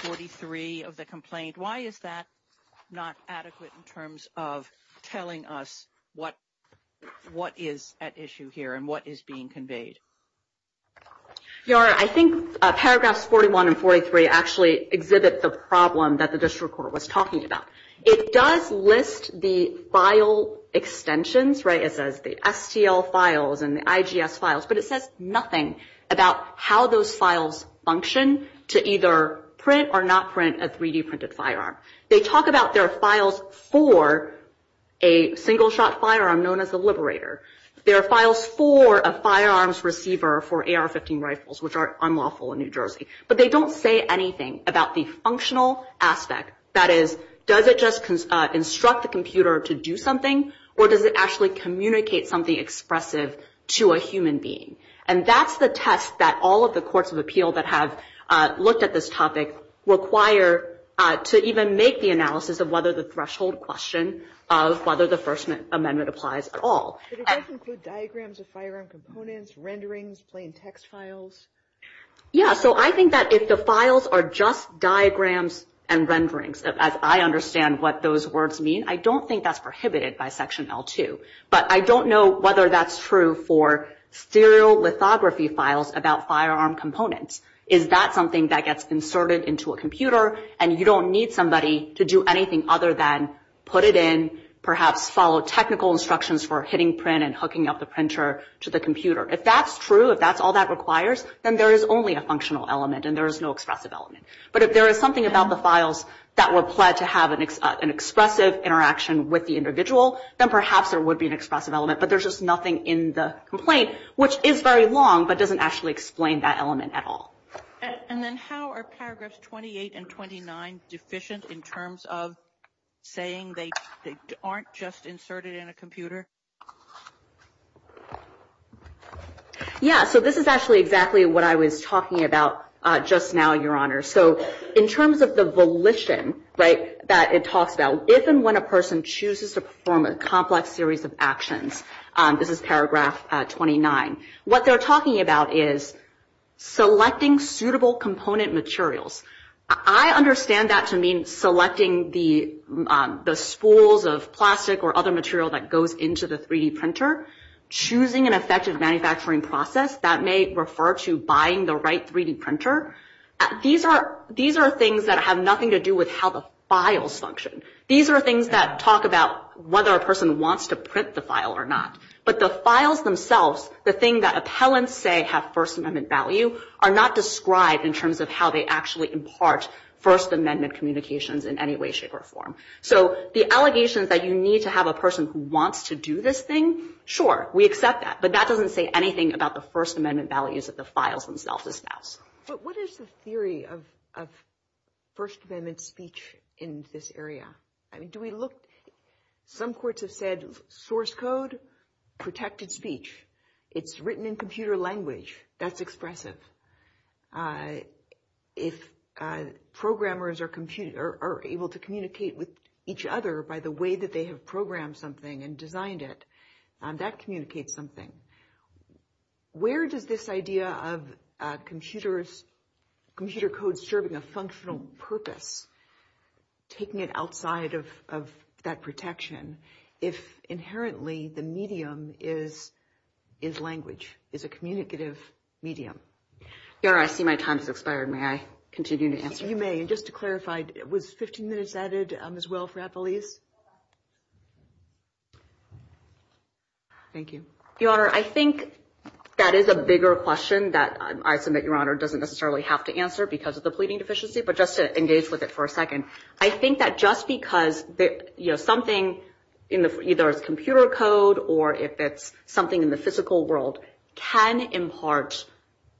43 of the complaint? Why is that not adequate in terms of telling us what is at issue here and what is being conveyed? Yara, I think paragraphs 41 and 43 actually exhibit the problem that the district court was talking about. It does list the file extensions, right? And the IGF files. But it says nothing about how those files function to either print or not print a 3D-printed firearm. They talk about there are files for a single-shot firearm known as a liberator. There are files for a firearms receiver for AR-15 rifles, which are unlawful in New Jersey. But they don't say anything about the functional aspect. That is, does it just instruct the computer to do something, or does it actually communicate something expressive to a human being? And that's the test that all of the courts of appeal that have looked at this topic require to even make the analysis of whether the threshold question of whether the First Amendment applies at all. Does that include diagrams of firearm components, renderings, plain text files? Yeah, so I think that if the files are just diagrams and renderings, as I understand what those words mean, I don't think that's prohibited by Section L2. But I don't know whether that's true for serial lithography files about firearm components. Is that something that gets inserted into a computer and you don't need somebody to do anything other than put it in, perhaps follow technical instructions for hitting print and hooking up the printer to the computer? If that's true, if that's all that requires, then there is only a functional element and there is no expressive element. But if there is something about the files that were applied to have an expressive interaction with the individual, then perhaps there would be an expressive element. But there's just nothing in the complaint, which is very long but doesn't actually explain that element at all. And then how are paragraphs 28 and 29 deficient in terms of saying they aren't just inserted in a computer? Yeah, so this is actually exactly what I was talking about just now, Your Honor. So in terms of the volition that it talks about, if and when a person chooses to perform a complex series of actions, this is paragraph 29, what they're talking about is selecting suitable component materials. I understand that to mean selecting the spools of plastic or other material that goes into the 3D printer, choosing an effective manufacturing process. That may refer to buying the right 3D printer. These are things that have nothing to do with how the files function. These are things that talk about whether a person wants to print the file or not. But the files themselves, the thing that appellants say have First Amendment value, are not described in terms of how they actually impart First Amendment communications in any way, shape, or form. So the allegations that you need to have a person who wants to do this thing, sure, we accept that. But that doesn't say anything about the First Amendment values that the files themselves espouse. But what is the theory of First Amendment speech in this area? I mean, do we look... Some courts have said source code, protected speech. It's written in computer language. That's expressive. If programmers are able to communicate with each other by the way that they have programmed something and designed it, that communicates something. Where does this idea of computer code serving a functional purpose, taking it outside of that protection, if inherently the medium is language, is a communicative medium? Yara, I see my time has expired. May I continue to answer? You may. And just to clarify, was 15 minutes added as well for appellees? Thank you. Your Honor, I think that is a bigger question that I submit Your Honor doesn't necessarily have to answer because of the pleading deficiency, but just to engage with it for a second. I think that just because something, either it's computer code or if it's something in the physical world, can impart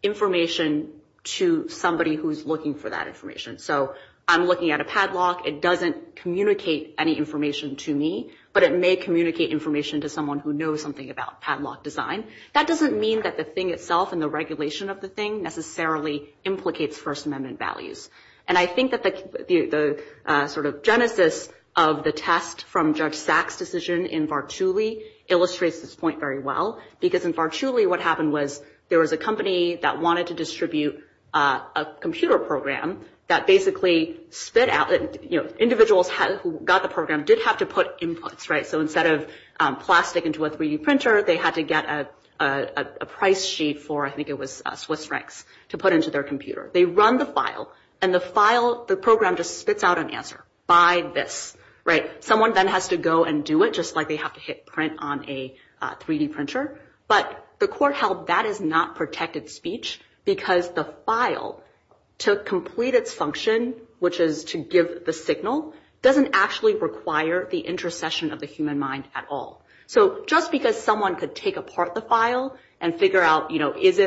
information to somebody who's looking for that information. So I'm looking at a padlock. It doesn't communicate any information to me. But it may communicate information to someone who knows something about padlock design. That doesn't mean that the thing itself and the regulation of the thing necessarily implicates First Amendment values. And I think that the sort of genesis of the test from Judge Sachs' decision in Vartuli illustrates this point very well because in Vartuli what happened was there was a company that wanted to distribute a computer program that basically spit out, individuals who got the program did have to put inputs, right? So instead of plastic into a 3D printer, they had to get a price sheet for, I think it was Swiss francs, to put into their computer. They run the file and the file, the program just spits out an answer. Buy this, right? Someone then has to go and do it just like they have to hit print on a 3D printer. But the court held that is not protected speech because the file took completed function, which is to give the signal, doesn't actually require the intercession of the human mind at all. So just because someone could take apart the file and figure out is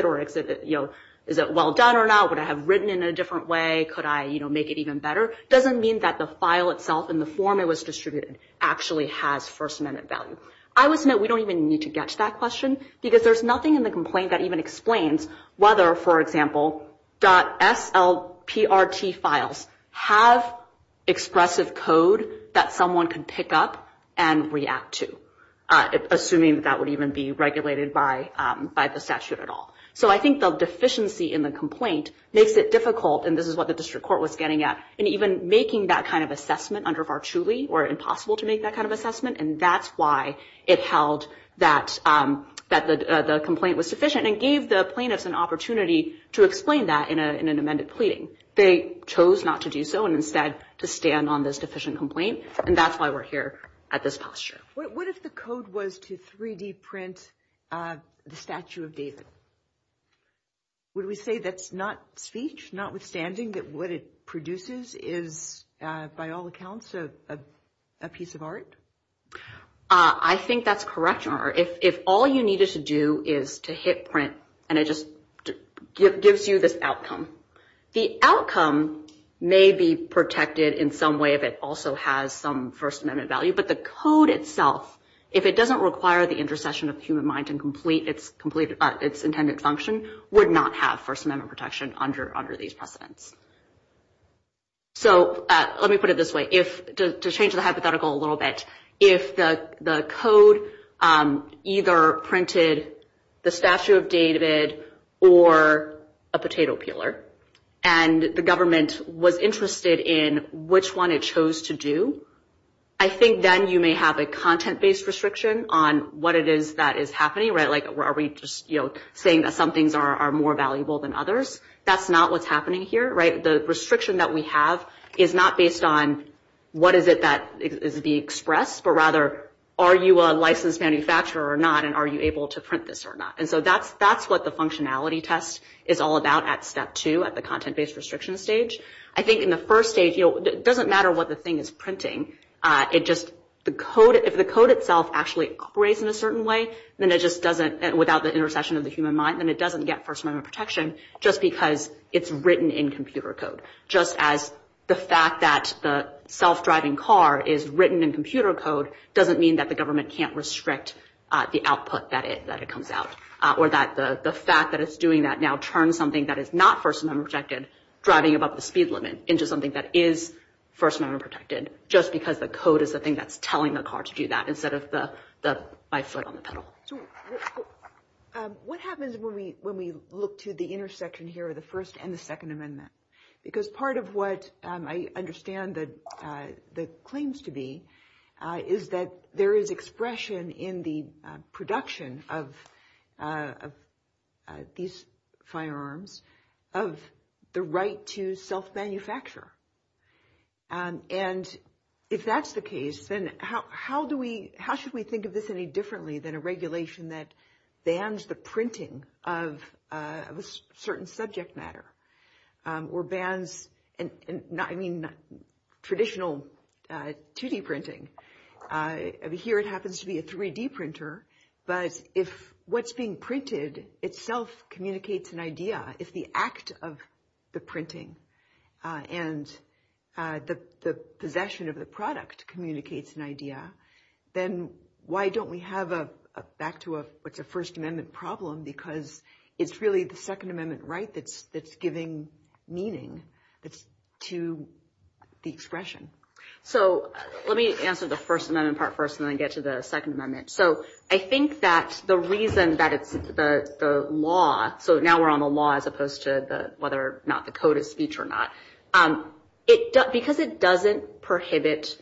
it well done or not, would I have written in a different way, could I make it even better, doesn't mean that the file itself and the form it was distributed actually has First Amendment value. I would say we don't even need to get to that question because there's nothing in the complaint that even explains whether, for example, .SLPRT files have expressive code that someone can pick up and react to, assuming that would even be regulated by the statute at all. So I think the deficiency in the complaint makes it difficult, and this is what the district court was getting at, in even making that kind of assessment under VARCHULI or impossible to make that kind of assessment, and that's why it's held that the complaint was deficient and gave the plaintiffs an opportunity to explain that in an amended plea. They chose not to do so and instead to stand on this deficient complaint, and that's why we're here at this posture. What if the code was to 3D print the statue of David? Would we say that's not speech, notwithstanding that what it produces is, by all accounts, a piece of art? I think that's correct. If all you needed to do is to hit print and it just gives you this outcome, the outcome may be protected in some way that also has some First Amendment value, but the code itself, if it doesn't require the intercession of the human mind to complete its intended function, would not have First Amendment protection under these precedents. So let me put it this way. To change the hypothetical a little bit, if the code either printed the statue of David or a potato peeler and the government was interested in which one it chose to do, I think then you may have a content-based restriction on what it is that is happening. Are we just saying that some things are more valuable than others? That's not what's happening here. The restriction that we have is not based on what is it that is being expressed, but rather are you a licensed manufacturer or not and are you able to print this or not? And so that's what the functionality test is all about at step two, at the content-based restriction stage. I think in the first stage, it doesn't matter what the thing is printing. If the code itself actually operates in a certain way without the intercession of the human mind, then it doesn't get First Amendment protection just because it's written in computer code. Just as the fact that the self-driving car is written in computer code doesn't mean that the government can't restrict the output that it comes out or that the fact that it's doing that now turns something that is not First Amendment protected driving above the speed limit into something that is First Amendment protected just because the code is the thing that's telling the car to do that instead of the bicycle on the pedal. What happens when we look to the intersection here of the First and the Second Amendment? Because part of what I understand the claims to be is that there is expression in the production of these firearms of the right to self-manufacture. If that's the case, then how should we think of this any differently than a regulation that bans the printing of a certain subject matter or bans traditional 2D printing? Here it happens to be a 3D printer, but if what's being printed itself communicates an idea, if the act of the printing and the possession of the product communicates an idea, then why don't we have a First Amendment problem because it's really the Second Amendment right that's giving meaning to the expression? Let me answer the First Amendment part first and then get to the Second Amendment. I think that the reason that the law, so now we're on the law as opposed to whether or not the code is speech or not, because it doesn't prohibit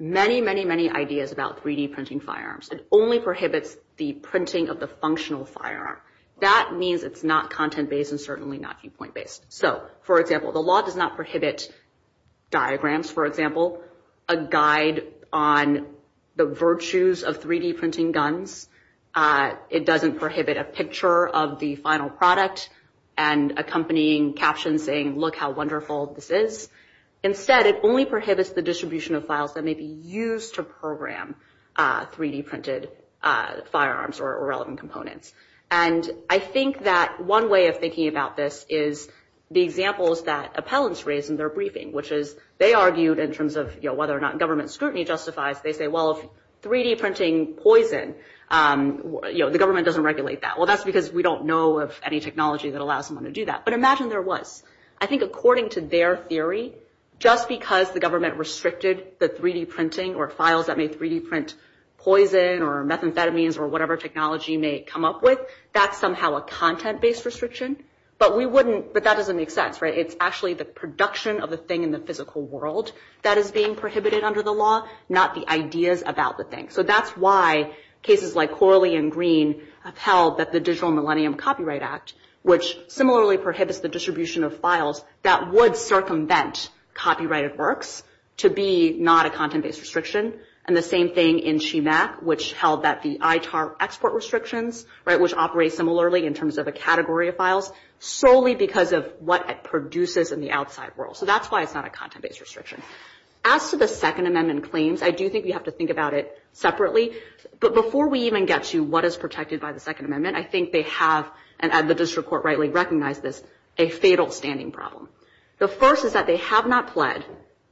many, many, many ideas about 3D printing firearms, it only prohibits the printing of the functional firearm, that means it's not content-based and certainly not viewpoint-based. For example, the law does not prohibit diagrams, for example, a guide on the virtues of 3D printing guns. It doesn't prohibit a picture of the final product and accompanying captions saying, look how wonderful this is. Instead, it only prohibits the distribution of files that may be used to program 3D printed firearms or relevant components. And I think that one way of thinking about this is the examples that appellants raise in their briefing, which is they argued in terms of whether or not government scrutiny justifies, they say, well, if 3D printing poison, the government doesn't regulate that. Well, that's because we don't know of any technology that allows them to do that. But imagine there was. I think according to their theory, just because the government restricted the 3D printing or files that may 3D print poison or methamphetamines or whatever technology you may come up with, that's somehow a content-based restriction. But that doesn't make sense, right? It's actually the production of the thing in the physical world that is being prohibited under the law, not the ideas about the thing. So that's why cases like Corley and Green have held that the Digital Millennium Copyright Act, which similarly prohibits the distribution of files, that would circumvent copyrighted works to be not a content-based restriction. And the same thing in CIMAC, which held that the ITAR export restrictions, which operate similarly in terms of a category of files, solely because of what it produces in the outside world. So that's why it's not a content-based restriction. As to the Second Amendment claims, I do think you have to think about it separately. But before we even get to what is protected by the Second Amendment, I think they have, and the district court rightly recognizes, a fatal standing problem. The first is that they have not fled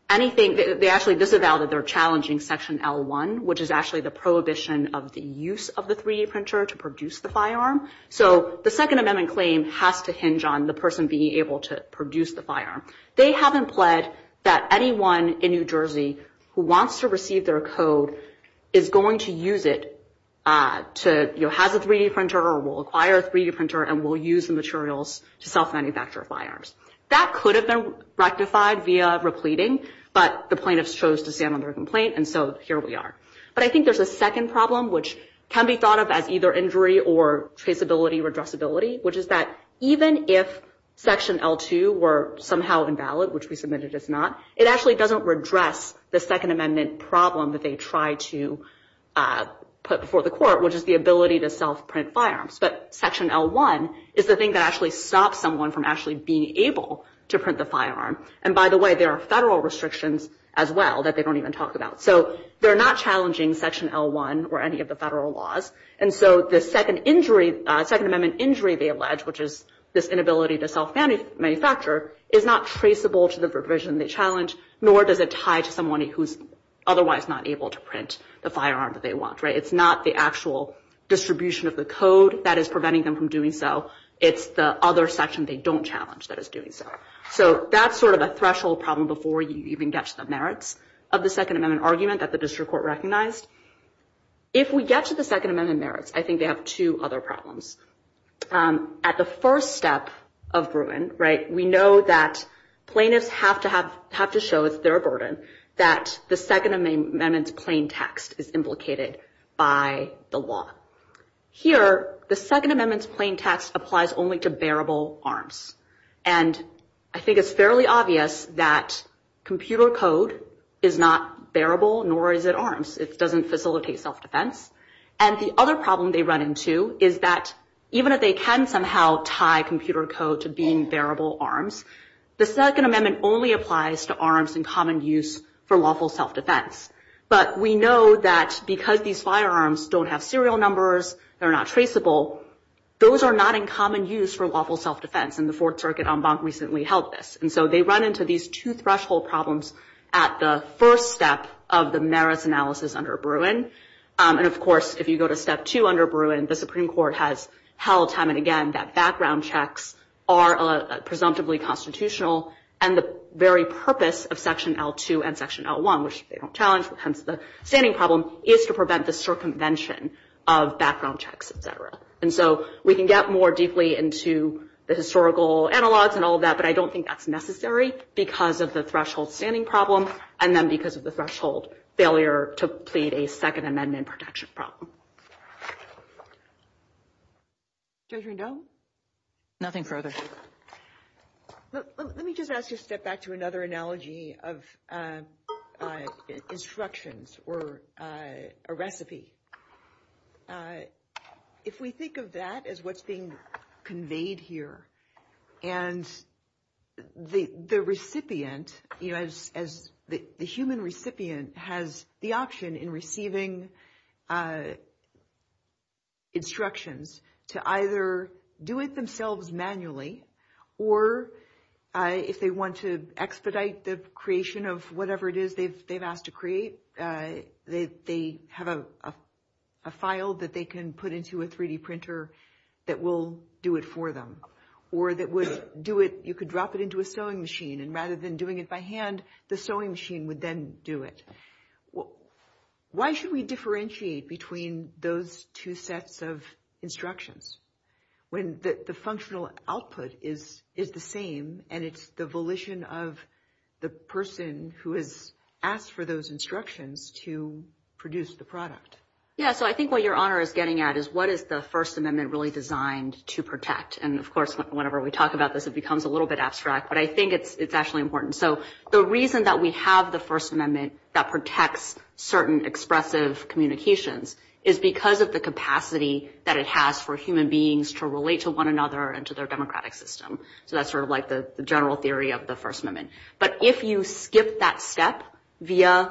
anything. They actually disavowed their challenging Section L1, which is actually the prohibition of the use of the 3D printer to produce the firearm. So the Second Amendment claims have to hinge on the person being able to produce the firearm. They haven't pled that anyone in New Jersey who wants to receive their code is going to use it to have a 3D printer or will acquire a 3D printer and will use the materials to self-manufacture firearms. That could have been rectified via repleting, but the plaintiffs chose to stand on their complaint, and so here we are. But I think there's a second problem, which can be thought of as either injury or traceability or addressability, which is that even if Section L2 were somehow invalid, which we submitted as not, it actually doesn't redress the Second Amendment problem that they tried to put before the court, which is the ability to self-print firearms. But Section L1 is the thing that actually stops someone from actually being able to print the firearm. And by the way, there are federal restrictions as well that they don't even talk about. So they're not challenging Section L1 or any of the federal laws, and so the Second Amendment injury they allege, which is this inability to self-manufacture, is not traceable to the provision they challenge, nor does it tie to someone who's otherwise not able to print the firearm that they want. It's not the actual distribution of the code that is preventing them from doing so. It's the other section they don't challenge that is doing so. So that's sort of a threshold problem before you even get to the merits of the Second Amendment argument that the district court recognized. If we get to the Second Amendment merits, I think they have two other problems. At the first step of Bruin, we know that plaintiffs have to show, if they're a burden, that the Second Amendment's plain text is implicated by the law. Here, the Second Amendment's plain text applies only to bearable arms, and I think it's fairly obvious that computer code is not bearable, nor is it arms. It doesn't facilitate self-defense, and the other problem they run into is that even if they can somehow tie computer code to being bearable arms, the Second Amendment only applies to arms in common use for lawful self-defense, but we know that because these firearms don't have serial numbers, they're not traceable, those are not in common use for lawful self-defense, and the Fourth Circuit en banc recently held this, and so they run into these two threshold problems at the first step of the merits analysis under Bruin, and of course, if you go to step two under Bruin, the Supreme Court has held time and again that background checks are presumptively constitutional, and the very purpose of section L2 and section L1, which they don't challenge because of the standing problem, is to prevent the circumvention of background checks, et cetera, and so we can get more deeply into the historical analysis and all that, but I don't think that's necessary because of the threshold standing problem and then because of the threshold failure to plead a Second Amendment protection problem. Judge Rendon? Nothing further. Let me just ask you to step back to another analogy of instructions or a recipe. If we think of that as what's being conveyed here and the recipient, as the human recipient has the option in receiving instructions to either do it themselves manually or if they want to expedite the creation of whatever it is they've asked to create, they have a file that they can put into a 3D printer that will do it for them or you could drop it into a sewing machine and rather than doing it by hand, the sewing machine would then do it. Why should we differentiate between those two sets of instructions when the functional output is the same and it's the volition of the person who has asked for those instructions to produce the product? Yeah, so I think what your honor is getting at is what is the First Amendment really designed to protect and of course whenever we talk about this, it becomes a little bit abstract but I think it's actually important. The reason that we have the First Amendment that protects certain expressive communications is because of the capacity that it has for human beings to relate to one another and to their democratic system. That's sort of like the general theory of the First Amendment but if you skip that step via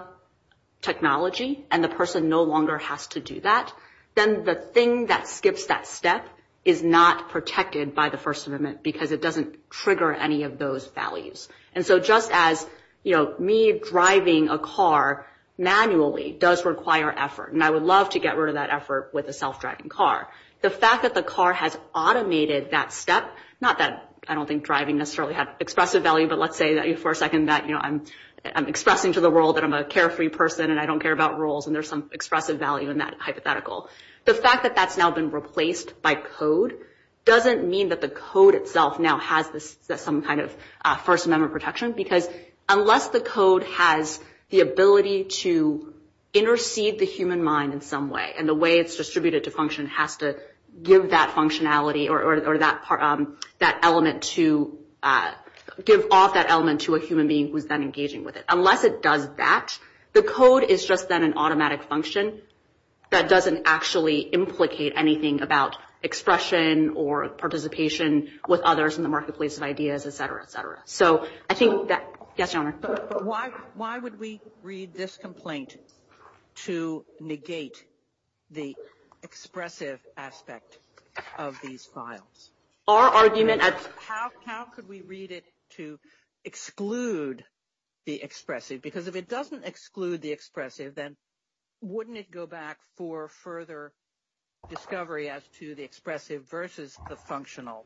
technology and the person no longer has to do that, then the thing that skips that step is not protected by the First Amendment because it doesn't trigger any of those values and so just as me driving a car manually does require effort and I would love to get rid of that effort with a self-driving car. The fact that the car has automated that step, not that I don't think driving necessarily has expressive value but let's say for a second that I'm expressing to the world that I'm a carefree person and I don't care about rules and there's some expressive value in that hypothetical. The fact that that's now been replaced by code doesn't mean that the code itself now has some kind of First Amendment protection because unless the code has the ability to intercede the human mind in some way and the way it's distributed to function has to give that functionality or give off that element to a human being who's then engaging with it. Unless it does that, the code is just then an automatic function that doesn't actually implicate anything about expression or participation with others in the marketplace of ideas, et cetera, et cetera. Why would we read this complaint to negate the expressive aspect of these files? Our argument is how could we read it to exclude the expressive because if it doesn't exclude the expressive then wouldn't it go back for further discovery as to the expressive versus the functional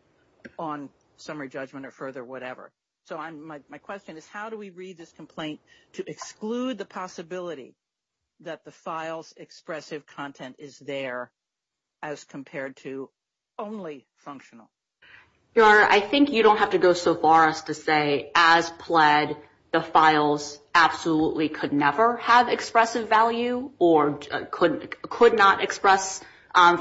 on summary judgment or further whatever. So my question is how do we read this complaint to exclude the possibility that the file's expressive content is there as compared to only functional? Your Honor, I think you don't have to go so far as to say as pled the files absolutely could never have expressive value or could not express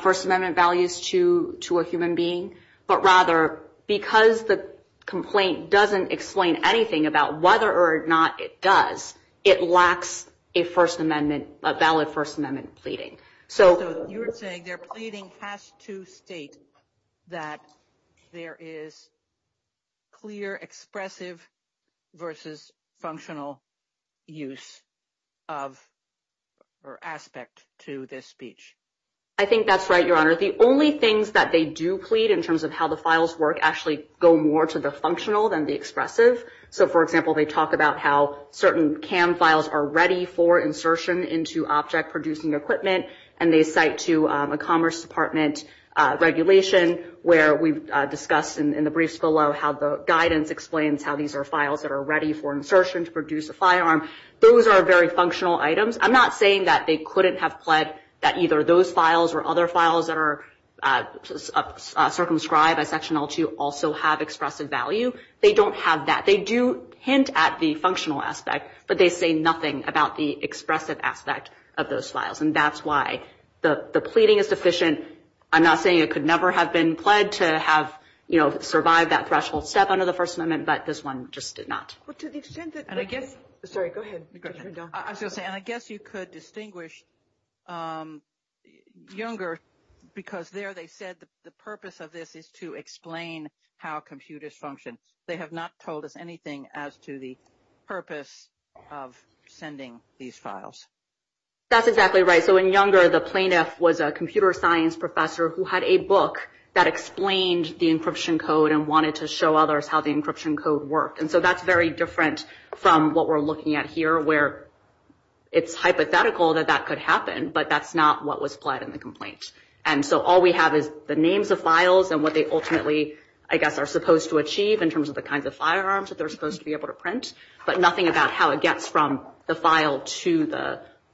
First Amendment values to a human being but rather because the complaint doesn't explain anything about whether or not it does, it lacks a First Amendment, a valid First Amendment pleading. So you're saying their pleading has to state that there is clear expressive versus functional use of or aspect to this speech. I think that's right, Your Honor. The only things that they do plead in terms of how the files work actually go more to the functional than the expressive. So, for example, they talk about how certain CAM files are ready for insertion into object-producing equipment and they cite to a Commerce Department regulation where we've discussed in the briefs below how the guidance explains how these are files that are ready for insertion to produce a firearm. Those are very functional items. I'm not saying that they couldn't have pled that either those files or other files that are circumscribed by Section L2 also have expressive value. They don't have that. They do hint at the functional aspect but they say nothing about the expressive aspect of those files. And that's why the pleading is sufficient. I'm not saying it could never have been pled to have survived that threshold step under the First Amendment, but this one just did not. Well, to the extent that... And I guess... Sorry, go ahead. And I guess you could distinguish younger because there they said the purpose of this is to explain how computers function. They have not told us anything as to the purpose of sending these files. That's exactly right. So in younger, the plaintiff was a computer science professor who had a book that explained the encryption code and wanted to show others how the encryption code worked. And so that's very different from what we're looking at here where it's hypothetical that that could happen, but that's not what was pled in the complaint. And so all we have is the names of files and what they ultimately, I guess, are supposed to achieve in terms of the kinds of firearms that they're supposed to be able to print, but nothing about how it gets from the file to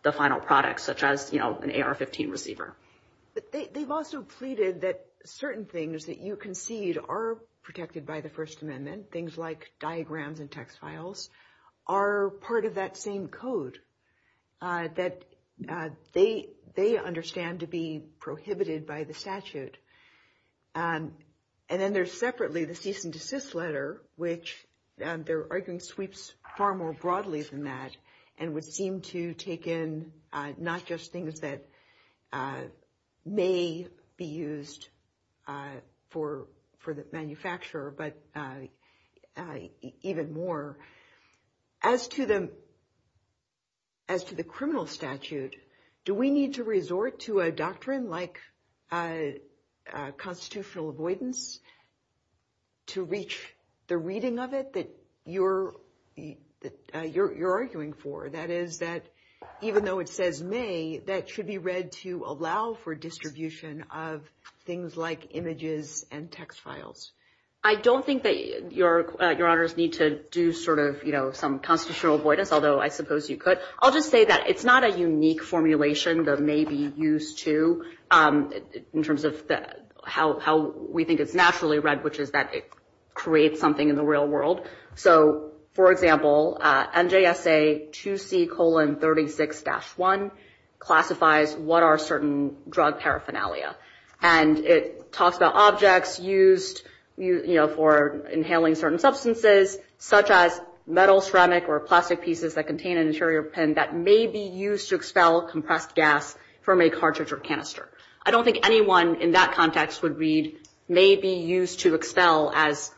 the final product, such as an AR-15 receiver. But they've also pleaded that certain things that you concede are protected by the First Amendment, things like diagrams and text files, are part of that same code that they understand to be prohibited by the statute. And then there's separately the cease and desist letter, which their argument sweeps far more broadly than that and would seem to take in not just things that may be used for the manufacturer, but even more. As to the criminal statute, do we need to resort to a doctrine like constitutional avoidance to reach the reading of it that you're arguing for? That is, that even though it says may, that should be read to allow for distribution of things like images and text files. I don't think that Your Honors need to do sort of some constitutional avoidance, although I suppose you could. I'll just say that it's not a unique formulation that may be used to, in terms of how we think it's naturally read, which is that it creates something in the real world. So, for example, NJSA 2C colon 36-1 classifies what are certain drug paraphernalia. And it talks about objects used for inhaling certain substances, such as metal, ceramic, or plastic pieces that contain an interior pen that may be used to expel compressed gas from a cartridge or canister. I don't think anyone in that context would read may be used to expel as,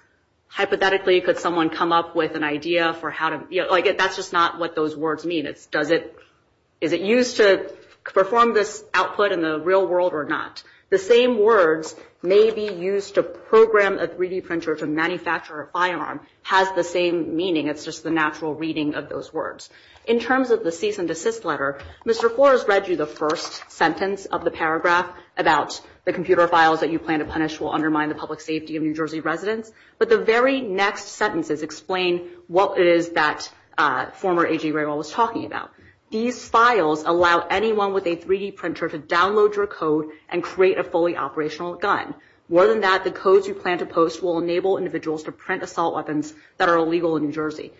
hypothetically, could someone come up with an idea for how to, like that's just not what those words mean. Is it used to perform this output in the real world or not? The same words may be used to program a 3D printer to manufacture a firearm has the same meaning. It's just the natural reading of those words. In terms of the cease and desist letter, Mr. Flores read you the first sentence of the paragraph about the computer files that you plan to punish will undermine the public safety of New Jersey residents. But the very next sentences explain what it is that former AG Raywall was talking about. These files allow anyone with a 3D printer to download your code and create a fully operational gun. More than that, the codes you plan to post will enable individuals to print assault weapons that are illegal in New Jersey.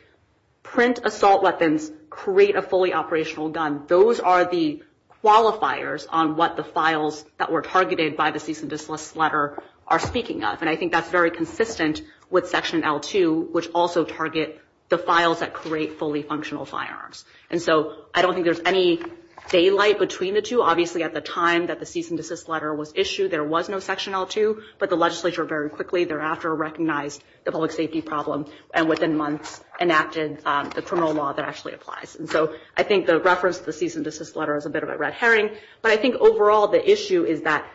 Print assault weapons create a fully operational gun. Those are the qualifiers on what the files that were targeted by the cease and desist letter are speaking of. And I think that's very consistent with Section L2, which also targets the files that create fully functional firearms. And so I don't think there's any daylight between the two. Obviously, at the time that the cease and desist letter was issued, there was no Section L2, but the legislature very quickly thereafter recognized the public safety problem and within months enacted the criminal law that actually applies. And so I think the reference to the cease and desist letter is a bit of a red herring, but I think overall the issue is that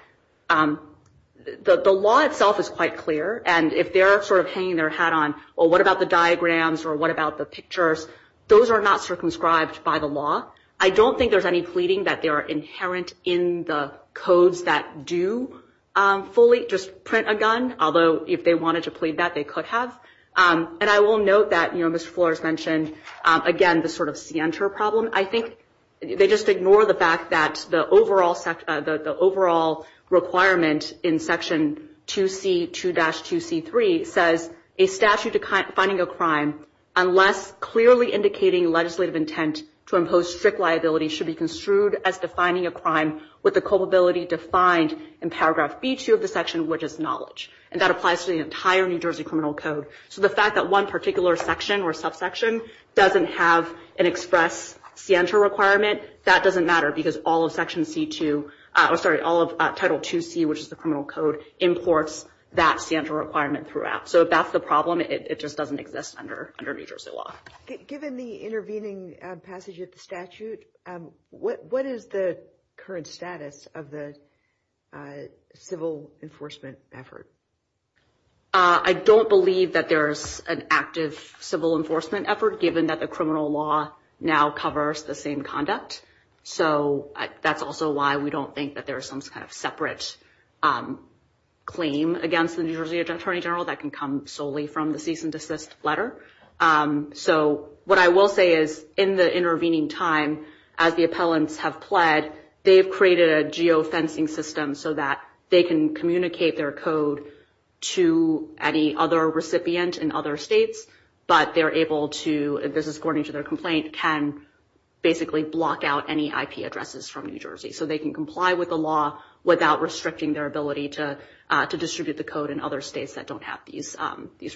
the law itself is quite clear, and if they're sort of hanging their hat on, well, what about the diagrams or what about the pictures? Those are not circumscribed by the law. I don't think there's any pleading that they are inherent in the codes that do fully just print a gun, although if they wanted to plead that, they could have. And I will note that, you know, Ms. Flores mentioned, again, the sort of scienter problem. I think they just ignore the fact that the overall requirement in Section 2C2-2C3 says a statute defining a crime unless clearly indicating legislative intent to impose strict liability should be construed as defining a crime with the culpability defined in paragraph B2 of the section, which is knowledge. And that applies to the entire New Jersey Criminal Code. So the fact that one particular section or subsection doesn't have an express scienter requirement, that doesn't matter because all of Section C2, I'm sorry, all of Title 2C, which is the criminal code, imports that scienter requirement throughout. So if that's the problem, it just doesn't exist under New Jersey law. Given the intervening passage of the statute, what is the current status of the civil enforcement effort? I don't believe that there's an active civil enforcement effort given that the criminal law now covers the same conduct. So that's also why we don't think that there's some kind of separate claim against the New Jersey Attorney General that can come solely from the cease and desist letter. So what I will say is in the intervening time, as the appellants have pled, they've created a geofencing system so that they can communicate their code to any other recipient in other states, but they're able to, this is according to their complaint, can basically block out any IP addresses from New Jersey. So they can comply with the law without restricting their ability to distribute the code in other states that don't have these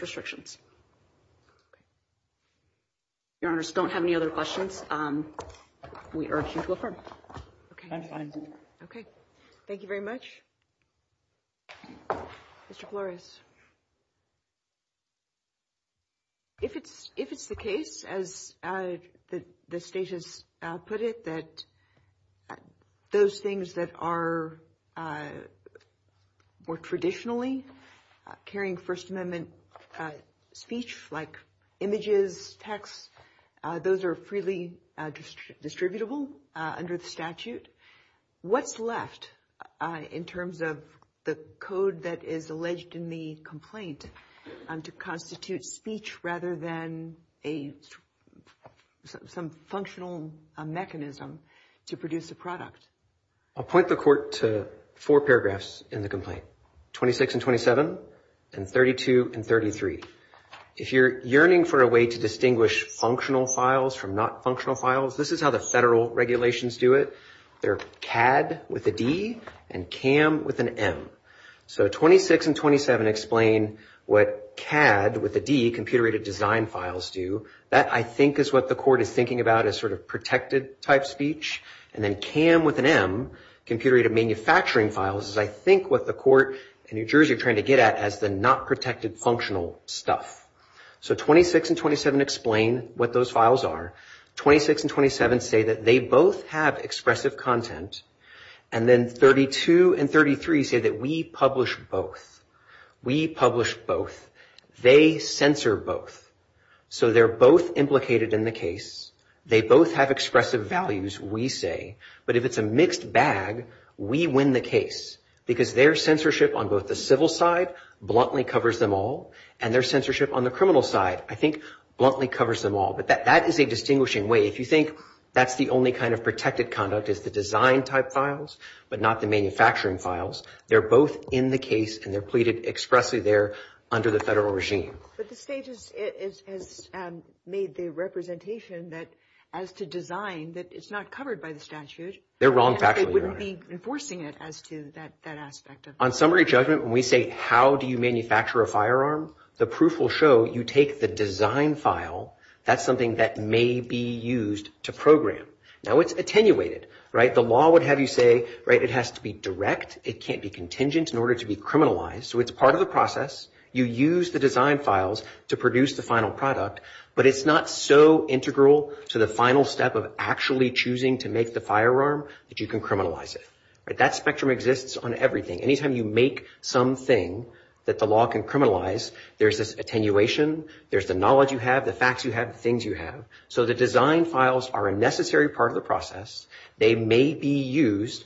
restrictions. Your Honor, I just don't have any other questions. We urge you to affirm. Okay, thank you very much. Mr. Flores. If it's the case, as the Statutes put it, that those things that are more traditionally carrying First Amendment speech, like images, text, those are freely distributable under the statute. What's left in terms of the code that is alleged in the complaint to constitute speech rather than some functional mechanism to produce the product? I'll point the Court to four paragraphs in the complaint, 26 and 27, and 32 and 33. If you're yearning for a way to distinguish functional files from not functional files, this is how the federal regulations do it. They're CAD with a D and CAM with an M. So 26 and 27 explain what CAD with a D, computer-aided design files, do. That, I think, is what the Court is thinking about as sort of protected-type speech. And then CAM with an M, computer-aided manufacturing files, is I think what the Court in New Jersey is trying to get at as the not protected functional stuff. So 26 and 27 explain what those files are. 26 and 27 say that they both have expressive content. And then 32 and 33 say that we publish both. We publish both. They censor both. So they're both implicated in the case. They both have expressive values, we say. But if it's a mixed bag, we win the case because their censorship on both the civil side bluntly covers them all, and their censorship on the criminal side, I think, bluntly covers them all. But that is a distinguishing way. If you think that's the only kind of protected conduct is the design-type files, but not the manufacturing files, they're both in the case, and they're pleaded expressly there under the federal regime. But the State has made the representation that as to design, that it's not covered by the statute. It wouldn't be enforcing it as to that aspect of it. On summary judgment, when we say, how do you manufacture a firearm? The proof will show you take the design file. That's something that may be used to program. Now it's attenuated, right? The law would have you say, right, it has to be direct. It can't be contingent in order to be criminalized. So it's part of the process. You use the design files to produce the final product. But it's not so integral to the final step of actually choosing to make the firearm that you can criminalize it. That spectrum exists on everything. Anytime you make something that the law can criminalize, there's this attenuation. There's the knowledge you have, the facts you have, the things you have. So the design files are a necessary part of the process. They may be used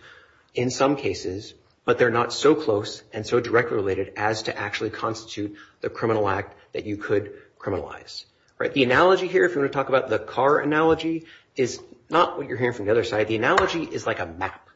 in some cases, but they're not so close and so directly related as to actually constitute the criminal act that you could criminalize, right? The analogy here, if you want to talk about the car analogy, is not what you're hearing from the other side. The analogy is like a map.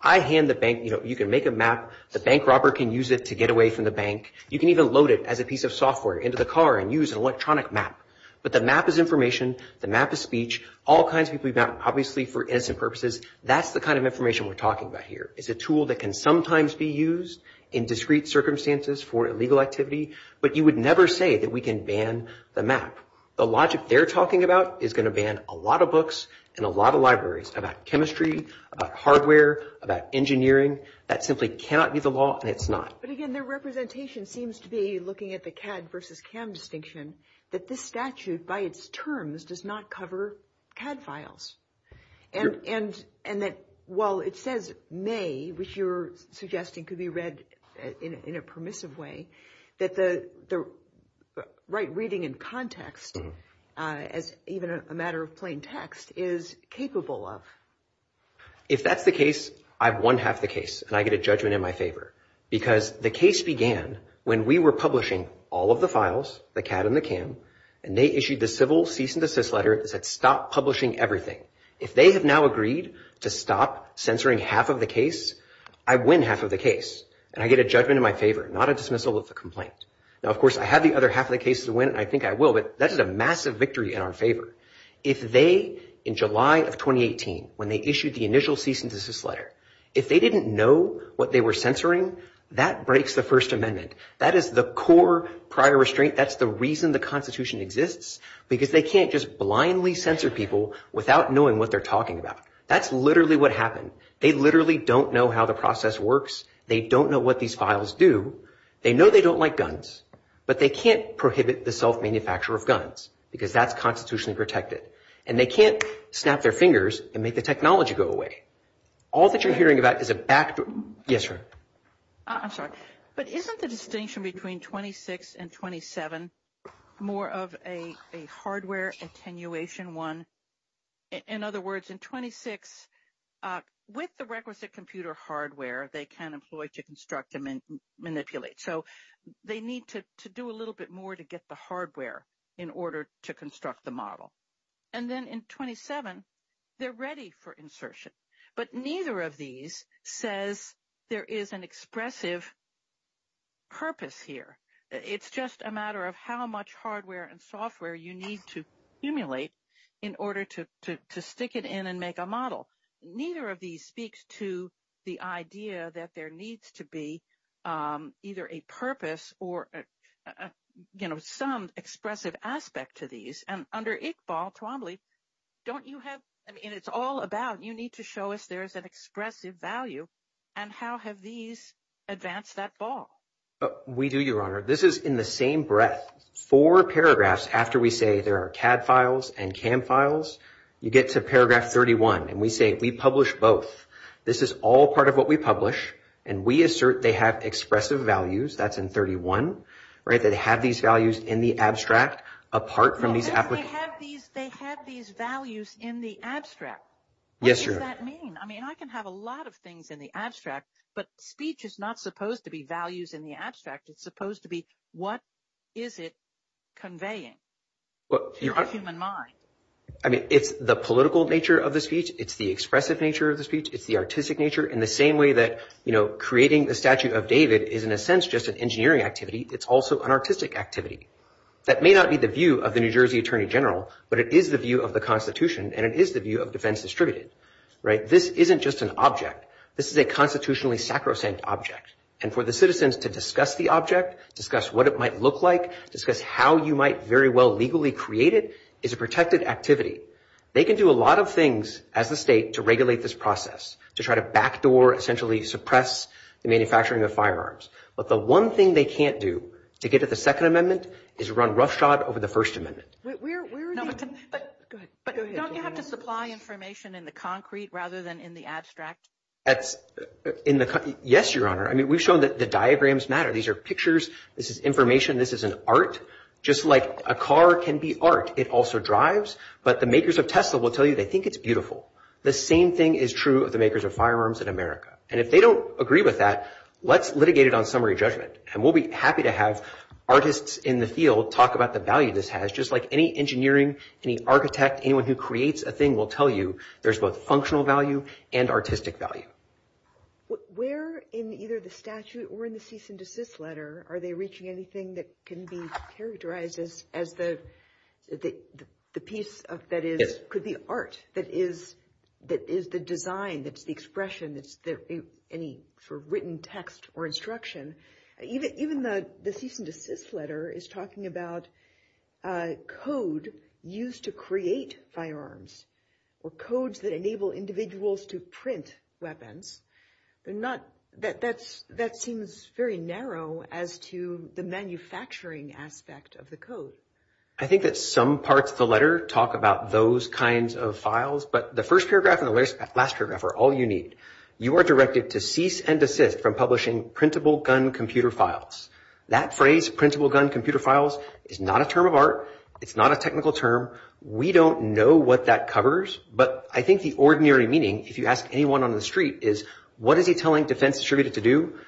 I hand the bank, you know, you can make a map. The bank robber can use it to get away from the bank. You can even load it as a piece of software into the car and use an electronic map. But the map is information. The map is speech. All kinds of people use maps, obviously, for innocent purposes. That's the kind of information we're talking about here. It's a tool that can sometimes be used in discrete circumstances for illegal activity, but you would never say that we can ban the map. The logic they're talking about is going to ban a lot of books and a lot of libraries about chemistry, about hardware, about engineering. That simply cannot be the law, and it's not. But again, their representation seems to be, looking at the CAD versus CAM distinction, that this statute, by its terms, does not cover CAD files. And that while it says may, which you're suggesting could be read in a permissive way, that the right reading in context, as even a matter of plain text, is capable of. If that's the case, I've won half the case, and I get a judgment in my favor. Because the case began when we were publishing all of the files, the CAD and the CAM, and they issued the civil cease and desist letter that said stop publishing everything. If they have now agreed to stop censoring half of the case, I win half of the case, and I get a judgment in my favor, not a dismissal, it's a complaint. Now, of course, I have the other half of the case to win, and I think I will, but that is a massive victory in our favor. If they, in July of 2018, when they issued the initial cease and desist letter, if they didn't know what they were censoring, that breaks the First Amendment. That is the core prior restraint. That's the reason the Constitution exists, because they can't just blindly censor people without knowing what they're talking about. That's literally what happened. They literally don't know how the process works. They don't know what these files do. They know they don't like guns, but they can't prohibit the self-manufacture of guns, because that's constitutionally protected, and they can't snap their fingers and make the technology go away. All that you're hearing about is a back... Yes, sir. I'm sorry, but isn't the distinction between 26 and 27 more of a hardware attenuation one? In other words, in 26, with the requisite computer hardware, they can employ to construct and manipulate. So they need to do a little bit more to get the hardware in order to construct the model. And then in 27, they're ready for insertion, but neither of these says there is an expressive purpose here. It's just a matter of how much hardware and software you need to emulate in order to stick it in and make a model. Neither of these speaks to the idea that there needs to be either a purpose or, you know, some expressive aspect to these. And under ICHBOL, Kalambli, don't you have... I mean, it's all about you need to show us there's an expressive value, and how have these advanced that ball? We do, Your Honor. This is in the same breadth. Four paragraphs after we say there are CAD files and CAM files, you get to paragraph 31, and we say we publish both. This is all part of what we publish, and we assert they have expressive values. That's in 31, right? They have these values in the abstract apart from these... They have these values in the abstract. Yes, Your Honor. What does that mean? I mean, I can have a lot of things in the abstract, but speech is not supposed to be values in the abstract. It's supposed to be what is it conveying to the human mind? I mean, it's the political nature of the speech. It's the expressive nature of the speech. It's the artistic nature. In the same way that creating the Statue of David is in a sense just an engineering activity, it's also an artistic activity. That may not be the view of the New Jersey Attorney General, but it is the view of the Constitution, and it is the view of defense distributed. This isn't just an object. This is a constitutionally sacrosanct object. And for the citizens to discuss the object, discuss what it might look like, discuss how you might very well legally create it, is a protected activity. They can do a lot of things as a state to regulate this process, to try to backdoor, essentially suppress, the manufacturing of firearms. But the one thing they can't do to get at the Second Amendment is run roughshod over the First Amendment. But don't you have to supply information in the concrete rather than in the abstract? Yes, Your Honor. I mean, we've shown that the diagrams matter. These are pictures. This is information. This is an art, just like a car can be art. It also drives. But the makers of Tesla will tell you they think it's beautiful. The same thing is true of the makers of firearms in America. And if they don't agree with that, let's litigate it on summary judgment. And we'll be happy to have artists in the field talk about the value this has, just like any engineering, any architect, anyone who creates a thing will tell you there's both functional value and artistic value. Where in either the statute or in the cease and desist letter are they reaching anything that can be characterized as the piece that could be art, that is the design, that's the expression, any sort of written text or instruction? Even the cease and desist letter is talking about code used to create firearms, or codes that enable individuals to print weapons. That seems very narrow as to the manufacturing aspect of the code. I think that some parts of the letter talk about those kinds of files. But the first paragraph and the last paragraph are all you need. You are directed to cease and desist from publishing printable gun computer files. That phrase, printable gun computer files, is not a term of art. It's not a technical term. We don't know what that covers. But I think the ordinary meaning, if you ask anyone on the street, is what is he telling defense distributors to do?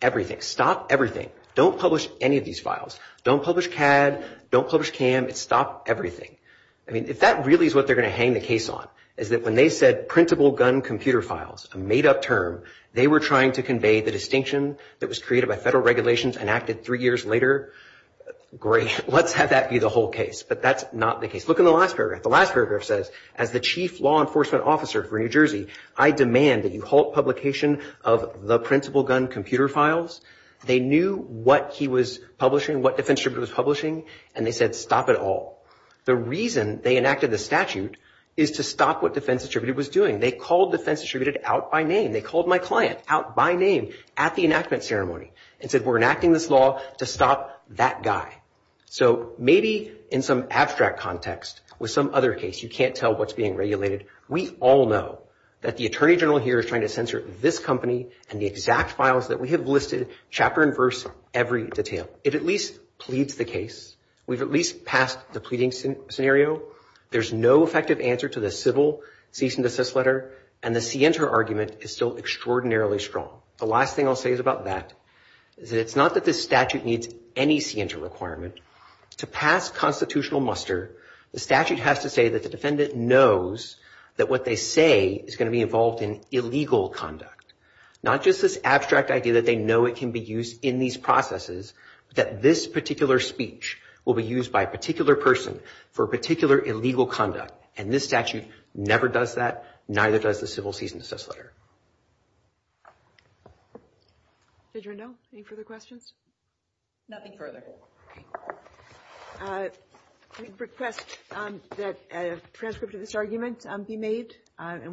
Everything. Stop everything. Don't publish any of these files. Don't publish CAD, don't publish CAM. Stop everything. If that really is what they're going to hang the case on, is that when they said printable gun computer files, a made-up term, they were trying to convey the distinction that was created by federal regulations enacted three years later. Great, let's have that be the whole case. But that's not the case. Look at the last paragraph. The last paragraph says, as the chief law enforcement officer for New Jersey, I demand that you halt publication of the printable gun computer files. They knew what he was publishing, what defense distributor was publishing, and they said stop it all. The reason they enacted the statute is to stop what defense distributor was doing. They called defense distributor out by name. They called my client out by name at the enactment ceremony and said we're enacting this law to stop that guy. So maybe in some abstract context, with some other case, you can't tell what's being regulated. We all know that the attorney general here is trying to censor this company and the exact files that we have listed, chapter and verse, every detail. It at least pleads the case. We've at least passed the pleading scenario. There's no effective answer to the civil cease and desist letter, and the scienter argument is still extraordinarily strong. The last thing I'll say is about that is that it's not that this statute needs any scienter requirement. To pass constitutional muster, the statute has to say that the defendant knows that what they say is going to be involved in illegal conduct. Not just this abstract idea that they know it can be used in these processes, but that this particular speech will be used by a particular person for a particular illegal conduct, and this statute never does that, neither does the civil cease and desist letter. Did you know? Any further questions? Nothing further. I request that a transcript of this argument be made I request that a transcript of this argument be made